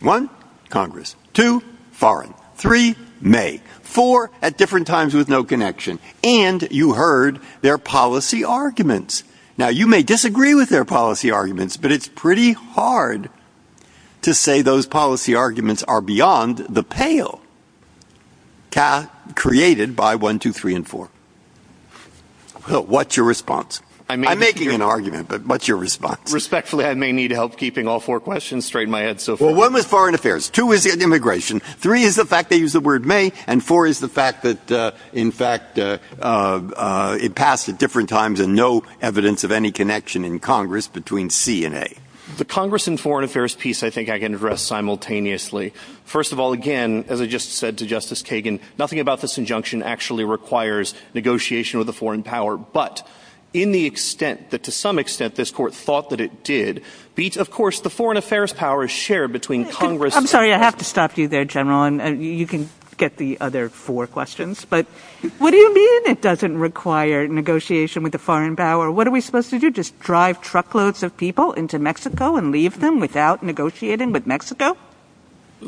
one, Congress. Two, foreign. Three, may. Four, at different times with no connection. And you heard their policy arguments. Now, you may disagree with their policy arguments, but it's pretty hard to say those policy arguments are beyond the pale created by one, two, three, and four. What's your response? I'm making an argument, but what's your response? Respectfully, I may need help keeping all four questions straight in my head so far. One was foreign affairs. Two is immigration. Three is the fact they use the word may. And four is the fact that, in fact, it passed at different times and no evidence of any connection in Congress between C and A. The Congress and foreign affairs piece, I think I can address simultaneously. First of all, again, as I just said to Justice Kagan, nothing about this injunction actually requires negotiation with the foreign power. But in the extent that to some extent this court thought that it did, of course, the foreign affairs power is shared between Congress. I'm sorry, I have to stop you there, General, and you can get the other four questions. But what do you mean it doesn't require negotiation with the foreign power? What are we supposed to do, just drive truckloads of people into Mexico and leave them without negotiating with Mexico?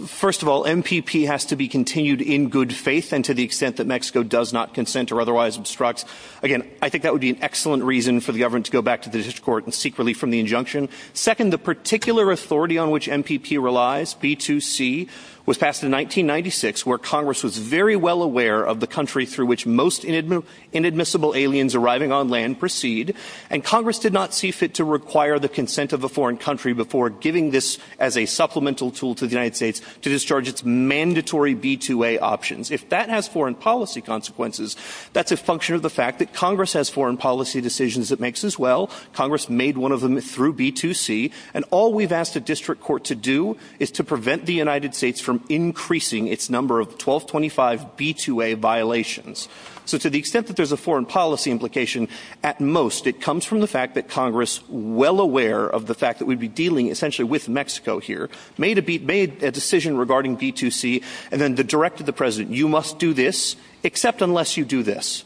First of all, MPP has to be continued in good faith and to the extent that Mexico does not consent or otherwise obstructs. Again, I think that would be an excellent reason for the government to go back to the district court and seek relief from the injunction. Second, the particular authority on which MPP relies, B2C, was passed in 1996, where Congress was very well aware of the country through which most inadmissible aliens arriving on land proceed. And Congress did not see fit to require the consent of a foreign country before giving this as a supplemental tool to the United States to discharge its mandatory B2A options. If that has foreign policy consequences, that's a function of the fact that Congress has foreign policy decisions. It makes as well. Congress made one of them through B2C. And all we've asked the district court to do is to prevent the United States from increasing its number of 1225 B2A violations. So to the extent that there's a foreign policy implication, at most, it comes from the fact that Congress, well aware of the fact that we'd be dealing essentially with Mexico here, made a decision regarding B2C and then directed the president, you must do this, except unless you do this.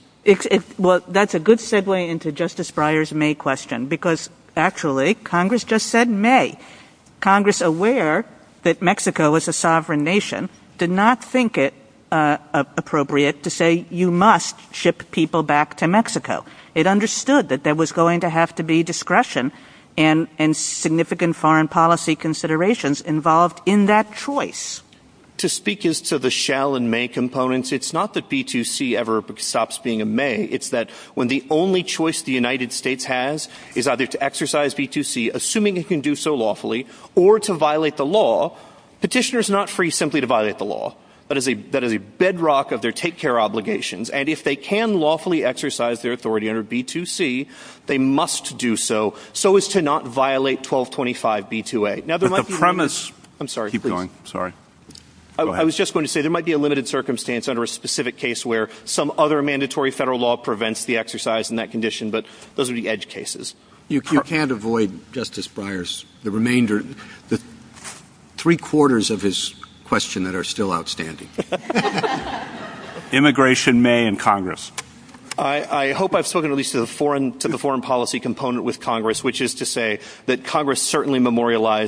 Well, that's a good segue into Justice Breyer's May question, because actually Congress just said May. Congress, aware that Mexico is a sovereign nation, did not think it appropriate to say you must ship people back to Mexico. It understood that there was going to have to be discretion and significant foreign policy considerations involved in that choice. To speak as to the shall and may components, it's not that B2C ever stops being a may. It's that when the only choice the United States has is either to exercise B2C, assuming it can do so lawfully, or to violate the law, petitioners are not free simply to violate the law. That is a bedrock of their take care obligations. And if they can lawfully exercise their authority under B2C, they must do so, so as to not violate 1225 B2A. The premise... I was just going to say there might be a limited circumstance under a specific case where some other mandatory federal law prevents the exercise in that condition, but those would be edge cases. You can't avoid, Justice Breyer, the remainder, the three quarters of his question that are still outstanding. Immigration, May, and Congress. I hope I've spoken at least to the foreign policy component with Congress, which is to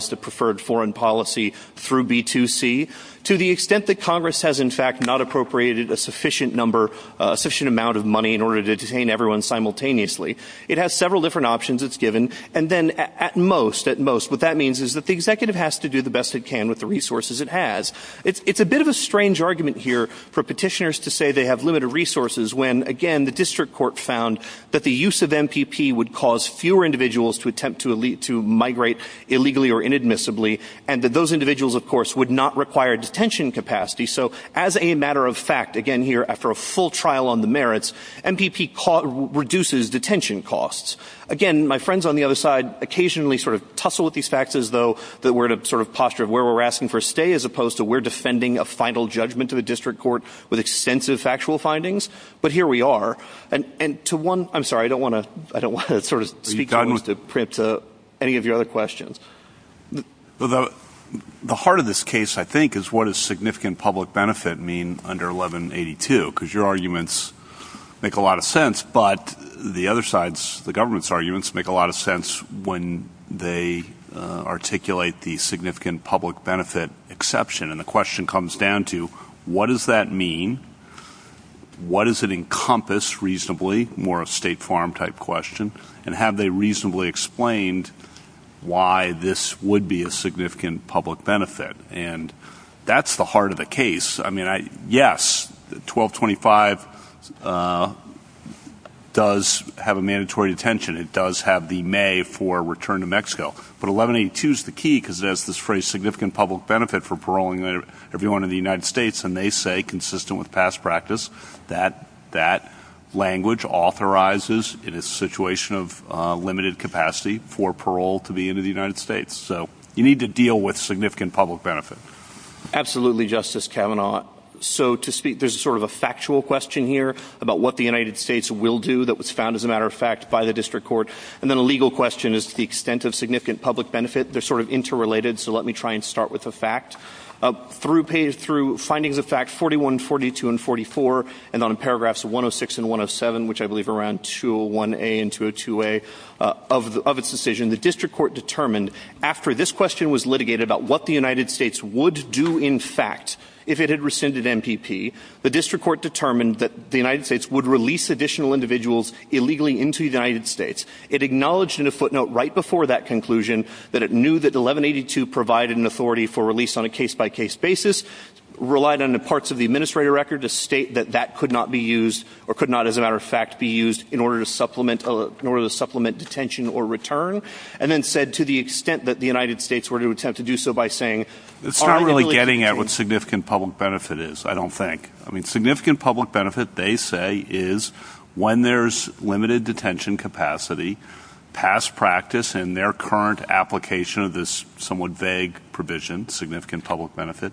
the preferred foreign policy through B2C. To the extent that Congress has, in fact, not appropriated a sufficient amount of money in order to detain everyone simultaneously, it has several different options it's given. And then at most, what that means is that the executive has to do the best it can with the resources it has. It's a bit of a strange argument here for petitioners to say they have limited resources when, again, the district court found that the use of MPP would cause fewer individuals to attempt to migrate illegally or inadmissibly, and that those individuals, of course, would not require detention capacity. So as a matter of fact, again, here after a full trial on the merits, MPP reduces detention costs. Again, my friends on the other side occasionally sort of tussle with these facts as though that we're in a sort of posture of where we're asking for a stay as opposed to we're defending a final judgment of a district court with extensive factual findings. But here we are. And to one, I'm sorry, I don't want to, I don't want to sort of speak to Prince, any of your other questions. Well, the heart of this case, I think, is what a significant public benefit mean under 1182, because your arguments make a lot of sense. But the other sides, the government's arguments make a lot of sense when they articulate the significant public benefit exception. And the question comes down to what does that mean? What does it encompass reasonably, more a state farm type question, and have they reasonably explained why this would be a significant public benefit? And that's the heart of the case. I mean, yes, 1225 does have a mandatory detention. It does have the may for return to Mexico. But 1182 is the key because there's this very significant public benefit for paroling everyone in the United States. And they say consistent with past practice that that language authorizes in a situation of limited capacity for parole to be in the United States. So you need to deal with significant public benefit. Absolutely, Justice Kavanaugh. So to speak, there's sort of a factual question here about what the United States will do that was found, as a matter of fact, by the district court. And then a legal question is the extent of significant public benefit. They're sort of interrelated. So let me try and start with the fact. Through findings of fact 41, 42, and 44, and on paragraphs 106 and 107, which I believe around 201A and 202A of its decision, the district court determined after this question was litigated about what the United States would do, in fact, if it had rescinded MPP, the district court determined that the United States would release additional individuals illegally into the United States. It acknowledged in a footnote right before that conclusion that it knew that 1182 provided an authority for release on a case-by-case basis, relied on the parts of the administrative record to state that that could not be used or could not, as a matter of fact, be used in order to supplement detention or return, and then said to the extent that the United States were to attempt to do so by saying... It's not really getting at what significant public benefit is, I don't think. I mean, significant public benefit, they say, is when there's limited detention capacity, past practice, and their current application of this somewhat vague provision, significant public benefit,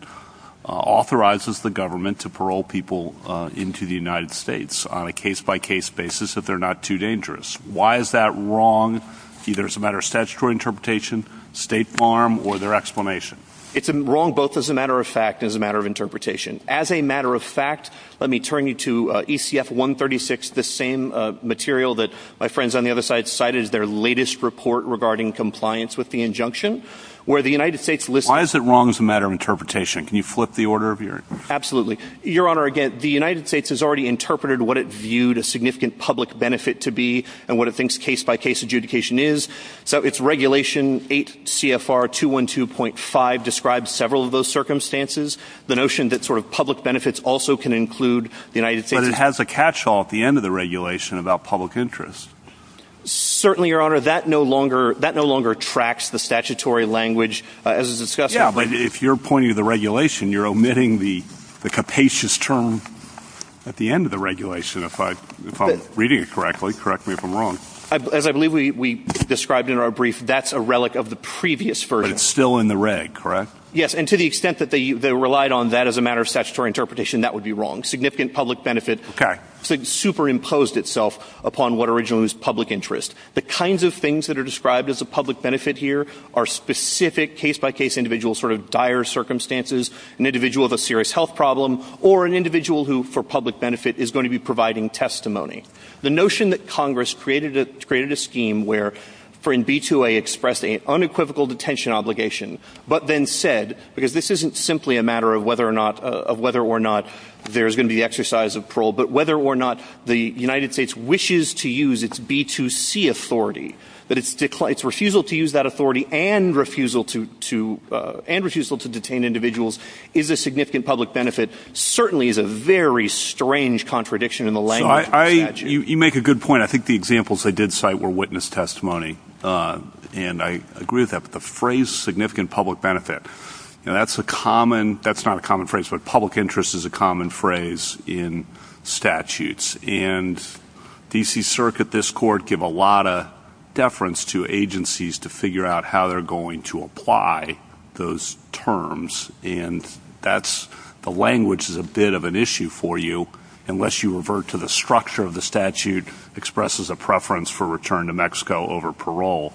authorizes the government to parole people into the United States on a case-by-case basis if they're not too dangerous. Why is that wrong, either as a matter of statutory interpretation, state farm, or their explanation? It's wrong both as a matter of fact and as a matter of interpretation. As a matter of fact, let me turn you to ECF 136, the same material that my friends on their latest report regarding compliance with the injunction, where the United States... Why is it wrong as a matter of interpretation? Can you flip the order of your... Absolutely. Your Honor, again, the United States has already interpreted what it viewed a significant public benefit to be and what it thinks case-by-case adjudication is. So its regulation 8 CFR 212.5 describes several of those circumstances. The notion that sort of public benefits also can include the United States... But it has a catch-all at the end of the regulation about public interest. Certainly, Your Honor, that no longer tracks the statutory language as it's discussed... Yeah, but if you're pointing to the regulation, you're omitting the capacious term at the end of the regulation. If I'm reading it correctly, correct me if I'm wrong. As I believe we described in our brief, that's a relic of the previous version. But it's still in the reg, correct? Yes, and to the extent that they relied on that as a matter of statutory interpretation, that would be wrong. Significant public benefit superimposed itself upon what originally was public interest. The kinds of things that are described as a public benefit here are specific case-by-case individuals, sort of dire circumstances, an individual of a serious health problem, or an individual who, for public benefit, is going to be providing testimony. The notion that Congress created a scheme wherein B2A expressed an unequivocal detention obligation but then said, because this isn't simply a matter of whether or not there's going to be the exercise of parole, but whether or not the United States wishes to use its B2C authority, but its refusal to use that authority and refusal to detain individuals is a significant public benefit, certainly is a very strange contradiction in the language of the statute. You make a good point. I think the examples I did cite were witness testimony, and I agree with that. But the phrase, significant public benefit, that's a common... in statutes. And D.C. Circuit, this court, give a lot of deference to agencies to figure out how they're going to apply those terms, and that's... the language is a bit of an issue for you, unless you revert to the structure of the statute expresses a preference for return to Mexico over parole.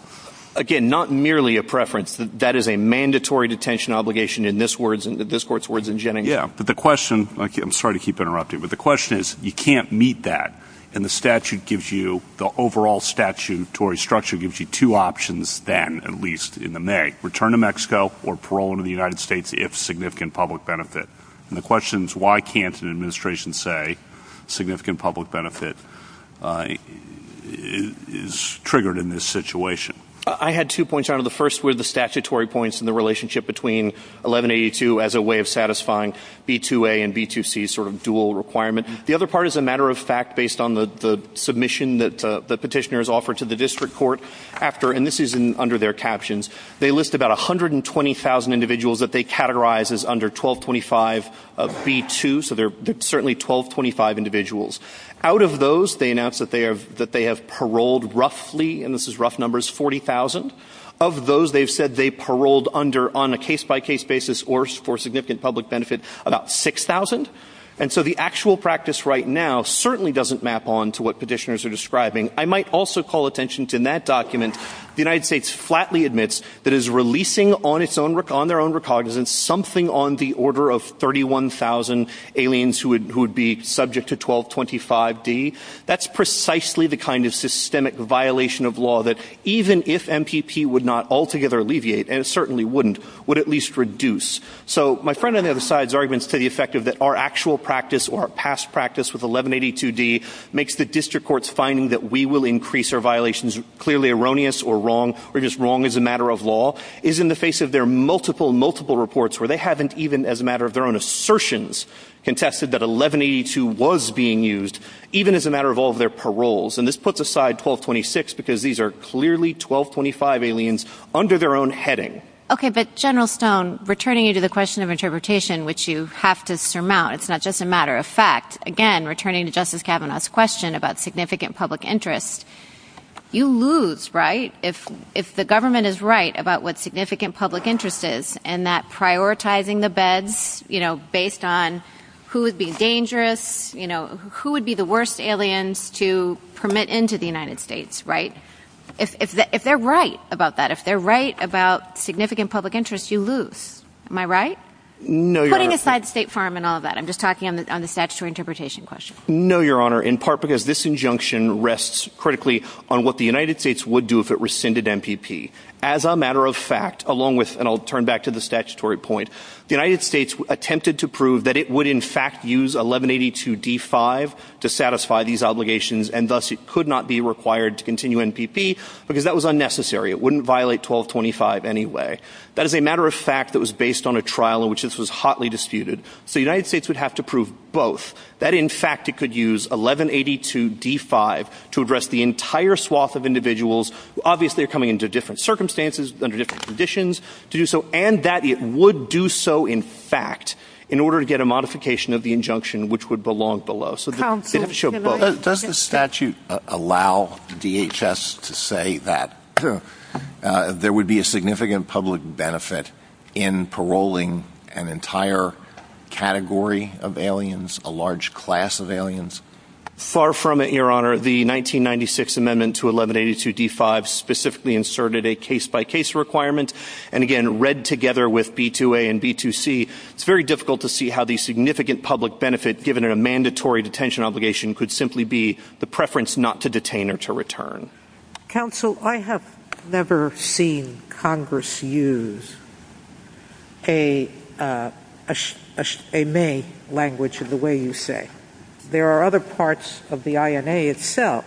Again, not merely a preference. That is a mandatory detention obligation in this court's words in Geneva. Yeah, but the question... I'm sorry to keep interrupting, but the question is, you can't meet that. And the statute gives you... the overall statutory structure gives you two options then, at least in the May, return to Mexico or parole in the United States if significant public benefit. And the question is, why can't an administration say significant public benefit is triggered in this situation? I had two points on it. The first were the statutory points and the relationship between 1182 as a way of satisfying B2A and B2C sort of dual requirement. The other part is a matter of fact based on the submission that the petitioner has offered to the district court after... and this is under their captions. They list about 120,000 individuals that they categorize as under 1225 of B2, so they're certainly 1225 individuals. Out of those, they announce that they have paroled roughly, and this is rough numbers, 40,000. Of those, they've said they paroled under on a case-by-case basis or for significant public benefit, about 6,000. And so the actual practice right now certainly doesn't map on to what petitioners are describing. I might also call attention to in that document, the United States flatly admits that is releasing on their own recognizance something on the order of 31,000 aliens who would be subject to 1225B. That's precisely the kind of systemic violation of law that even if MPP would not altogether alleviate, and it certainly wouldn't, would at least reduce. So my friend on the other side's arguments to the effect of that our actual practice or our past practice with 1182D makes the district court's finding that we will increase our violations clearly erroneous or wrong, or just wrong as a matter of law, is in the face of their multiple, multiple reports where they haven't even, as a matter of their own assertions, contested that 1182 was being used, even as a matter of all of their paroles. And this puts aside 1226 because these are clearly 1225 aliens under their own heading. Okay, but General Stone, returning to the question of interpretation, which you have to surmount, it's not just a matter of fact, again, returning to Justice Kavanaugh's question about significant public interest, you lose, right? If, if the government is right about what significant public interest is, and that prioritizing the beds, you know, based on who would be dangerous, you know, who would be the worst aliens to permit into the United States, right? If they're right about that, if they're right about significant public interest, you lose. Am I right? No, Your Honor. Putting aside the State Farm and all that, I'm just talking on the statutory interpretation question. No, Your Honor, in part because this injunction rests critically on what the United States would do if it rescinded MPP. As a matter of fact, along with, and I'll turn back to the statutory point, the United States attempted to prove that it would in fact use 1182D-5 to satisfy these obligations, and thus it could not be required to continue MPP because that was unnecessary. It wouldn't violate 1225 anyway. That is a matter of fact that was based on a trial in which this was hotly disputed. So the United States would have to prove both, that in fact it could use 1182D-5 to address the entire swath of individuals, obviously coming into different circumstances, under different conditions, to do so, and that it would do so in fact in order to get a modification of the injunction, which would belong below. Does the statute allow DHS to say that there would be a significant public benefit in paroling an entire category of aliens, a large class of aliens? Far from it, Your Honor. The 1996 amendment to 1182D-5 specifically inserted a case-by-case requirement, and again, read together with B-2A and B-2C, it's very difficult to see how the significant public given a mandatory detention obligation could simply be the preference not to detain or to return. Counsel, I have never seen Congress use a may language of the way you say. There are other parts of the INA itself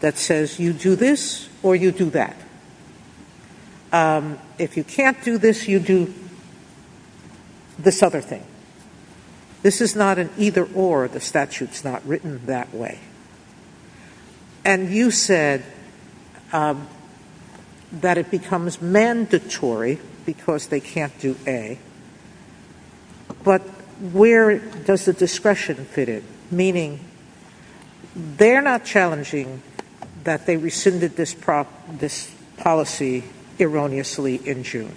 that says you do this or you do that. If you can't do this, you do this other thing. This is not an either or. The statute's not written that way. And you said that it becomes mandatory because they can't do A, but where does the discretion fit in? Meaning, they're not challenging that they rescinded this policy erroneously in June.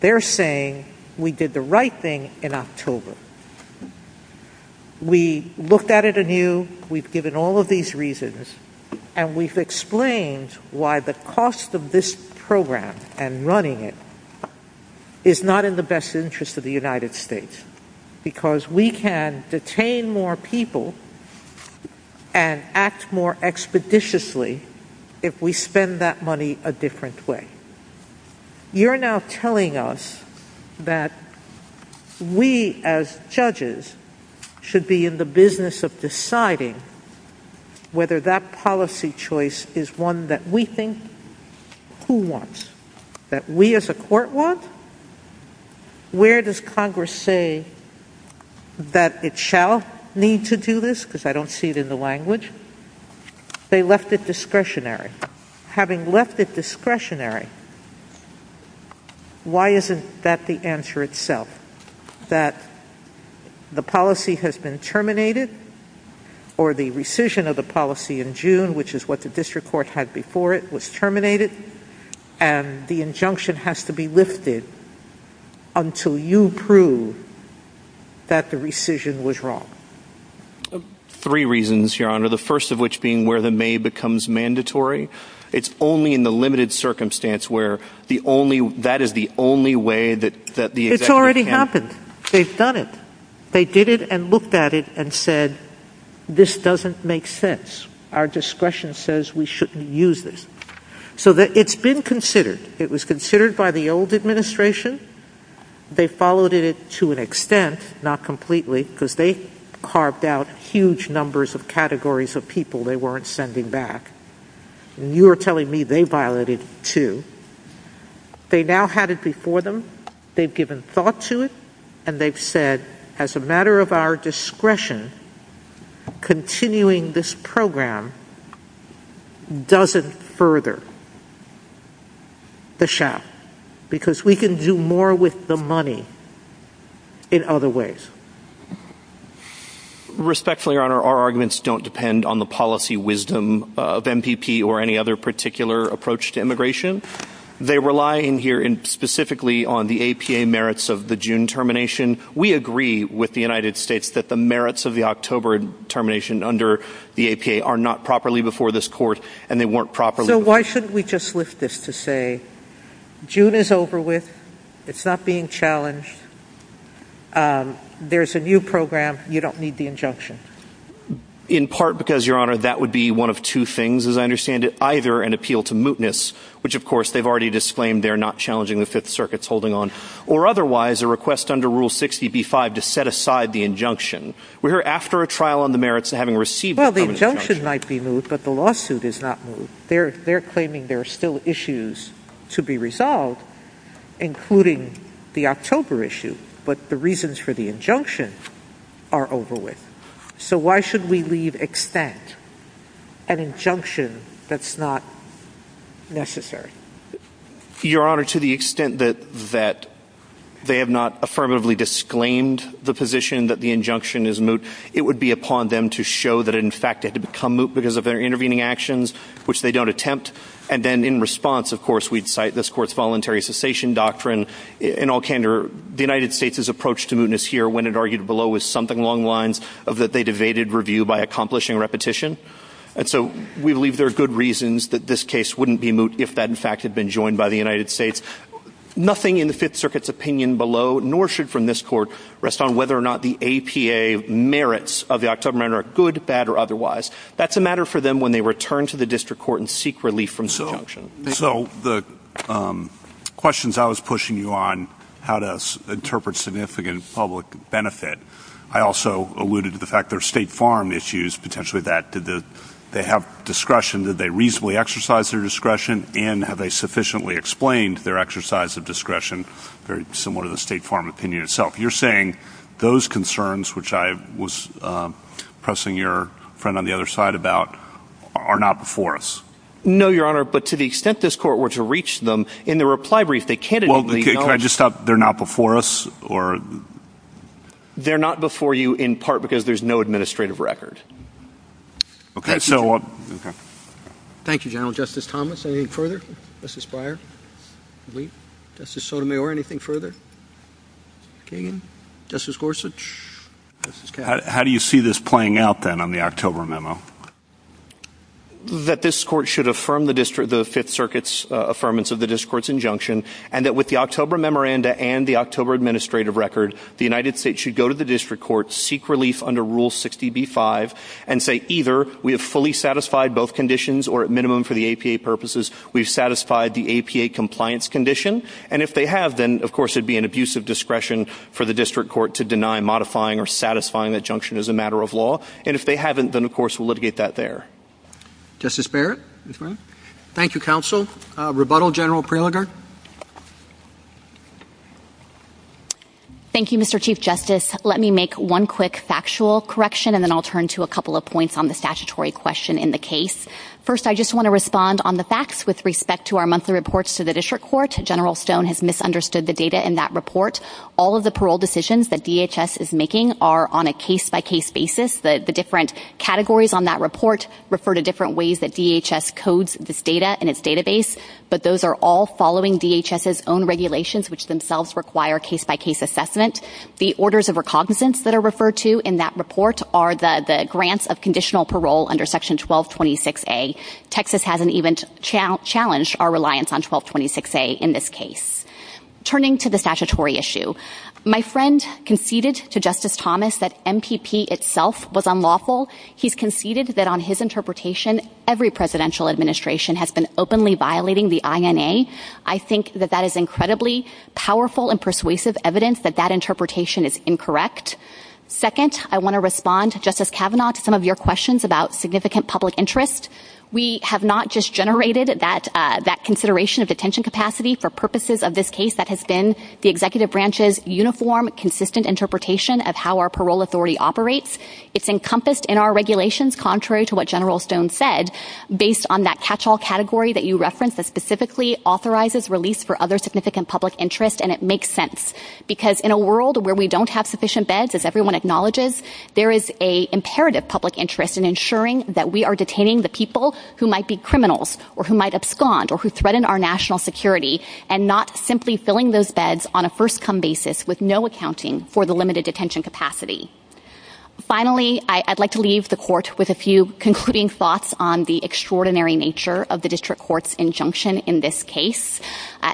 They're saying we did the right thing in October. We looked at it anew, we've given all of these reasons, and we've explained why the cost of this program and running it is not in the best interest of the United States, because we can detain more people and act more expeditiously if we spend that money a different way. You're now telling us that we as judges should be in the business of deciding whether that policy choice is one that we think who wants, that we as a court want? Where does Congress say that it shall need to do this? Because I don't see it in the language. They left it discretionary. Having left it discretionary, why isn't that the answer itself? That the policy has been terminated, or the rescission of the policy in June, which is what the district court had before it, was terminated, and the injunction has to be lifted until you prove that the rescission was wrong? Three reasons, Your Honor. The first of which being where the may becomes mandatory. It's only in the limited circumstance where that is the only way that the executive can- It's already happened. They've done it. They did it and looked at it and said, this doesn't make sense. Our discretion says we shouldn't use this. So it's been considered. It was considered by the old administration. They followed it to an extent, not completely, because they carved out huge numbers of categories of people they weren't sending back, and you are telling me they violated two. They now had it before them. They've given thought to it, and they've said, as a matter of our discretion, continuing this program doesn't further the shot because we can do more with the money in other ways. Respectfully, Your Honor, our arguments don't depend on the policy wisdom of MPP or any other particular approach to immigration. They rely in here specifically on the APA merits of the June termination. We agree with the United States that the merits of the October termination under the APA are not properly before this court, and they weren't properly- So why shouldn't we just lift this to say, June is over with. It's not being challenged. There's a new program. You don't need the injunction. In part because, Your Honor, that would be one of two things, as I understand it, either an appeal to mootness, which, of course, they've already disclaimed they're not challenging the Fifth Circuit's holding on, or otherwise a request under Rule 60b-5 to set aside the injunction. We're here after a trial on the merits of having received- Well, the injunction might be moved, but the lawsuit is not moved. They're claiming there are still issues to be resolved, including the October issue. But the reasons for the injunction are over with. So why should we leave extent an injunction that's not necessary? Your Honor, to the extent that they have not affirmatively disclaimed the position that the injunction is moot, it would be upon them to show that, in fact, it had become moot because of their intervening actions, which they don't attempt. And then in response, of course, we'd cite this court's voluntary cessation doctrine in all candor. The United States' approach to mootness here, when it argued below, was something along lines of that they debated review by accomplishing repetition. And so we believe there are good reasons that this case wouldn't be moot if that, in fact, had been joined by the United States. Nothing in the Fifth Circuit's opinion below, nor should from this court, rest on whether or not the APA merits of the October matter are good, bad, or otherwise. That's a matter for them when they return to the district court and seek relief from this injunction. So the questions I was pushing you on, how to interpret significant public benefit, I also alluded to the fact there are State Farm issues, potentially that did they have discretion, did they reasonably exercise their discretion, and have they sufficiently explained their exercise of discretion, very similar to the State Farm opinion itself. You're saying those concerns, which I was pressing your friend on the other side about, are not before us? No, Your Honor, but to the extent this court were to reach them in the reply brief, they can't admit they don't. Can I just stop? They're not before us? They're not before you, in part, because there's no administrative record. Thank you, General. Justice Thomas, anything further? Justice Breyer? Justice Sotomayor, anything further? Justice Gorsuch? How do you see this playing out, then, on the October memo? That this court should affirm the Fifth Circuit's affirmance of the district court's injunction, and that with the October memoranda and the October administrative record, the United States should go to the district court, seek relief under Rule 60b-5, and say either we have fully satisfied both conditions, or at minimum, for the APA purposes, we've satisfied the APA compliance condition, and if they have, then, of course, it'd be an abuse of discretion for the district court to deny modifying or satisfying the injunction as a matter of law, and if they haven't, then, of course, we'll litigate that there. Justice Barrett? Thank you, Counsel. Rebuttal, General Prelinger? Thank you, Mr. Chief Justice. Let me make one quick factual correction, and then I'll turn to a couple of points on the statutory question in the case. First, I just want to respond on the facts with respect to our monthly reports to the district court. General Stone has misunderstood the data in that report. All of the parole decisions that DHS is making are on a case-by-case basis. The different categories on that report refer to different ways that DHS codes this data in its database, but those are all following DHS's own regulations, which themselves require case-by-case assessment. The orders of recognizance that are referred to in that report are the grants of conditional parole under Section 1226A. Texas hasn't even challenged our reliance on 1226A in this case. Turning to the statutory issue, my friend conceded to Justice Thomas that MPP itself was unlawful. He's conceded that on his interpretation, every presidential administration has been openly violating the INA. I think that that is incredibly powerful and persuasive evidence that that interpretation is incorrect. Second, I want to respond, Justice Kavanaugh, to some of your questions about significant public interest. We have not just generated that consideration of detention capacity for purposes of this case that has been the executive branch's uniform, consistent interpretation of how our parole authority operates. It's encompassed in our regulations, contrary to what General Stone said, based on that catch-all category that you referenced that specifically authorizes release for other significant public interest, and it makes sense. Because in a world where we don't have sufficient beds, as everyone acknowledges, there is an imperative public interest in ensuring that we are detaining the people who might be criminals or who might abscond or who threaten our national security, and not simply filling those beds on a first-come basis with no accounting for the limited detention capacity. Finally, I'd like to leave the court with a few concluding thoughts on the extraordinary nature of the district court's injunction in this case,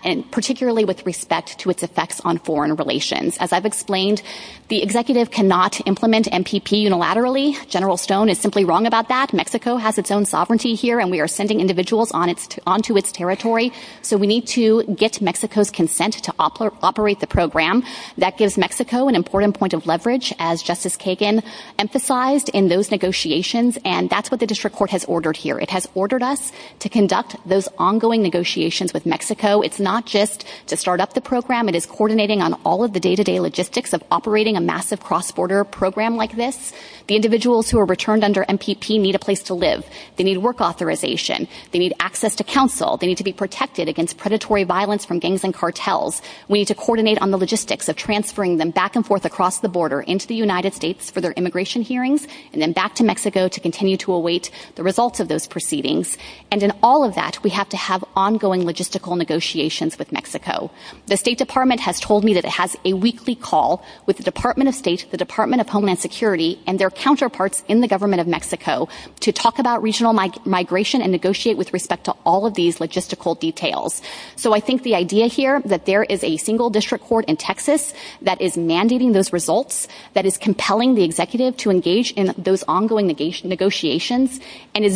and particularly with respect to its effects on foreign relations. As I've explained, the executive cannot implement MPP unilaterally. General Stone is simply wrong about that. Mexico has its own sovereignty here, and we are sending individuals onto its territory, so we need to get Mexico's consent to operate the program. That gives Mexico an important point of leverage, as Justice Kagan emphasized in those negotiations, and that's what the district court has ordered here. It has ordered us to conduct those ongoing negotiations with Mexico. It's not just to start up the program. It is coordinating on all of the day-to-day logistics of operating a massive cross-border program like this. The individuals who are returned under MPP need a place to live. They need work authorization. They need access to counsel. They need to be protected against predatory violence from gangs and cartels. We need to coordinate on the logistics of transferring them back and forth across the border into the United States for their immigration hearings, and then back to Mexico to continue to await the results of those proceedings. And in all of that, we have to have ongoing logistical negotiations with Mexico. The State Department has told me that it has a weekly call with the Department of State, the Department of Homeland Security, and their counterparts in the government of Mexico to talk about regional migration and negotiate with respect to all of these logistical details. So I think the idea here that there is a single district court in Texas that is mandating those results, that is compelling the executive to engage in those ongoing negotiations, and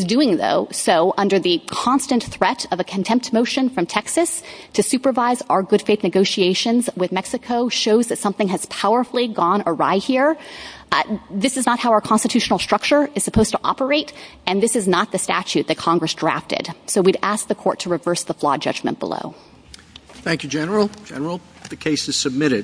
so under the constant threat of a contempt motion from Texas to supervise our good faith negotiations with Mexico shows that something has powerfully gone awry here. This is not how our constitutional structure is supposed to operate, and this is not the statute that Congress drafted. So we'd ask the court to reverse the flawed judgment below. Thank you, General. General, the case is submitted.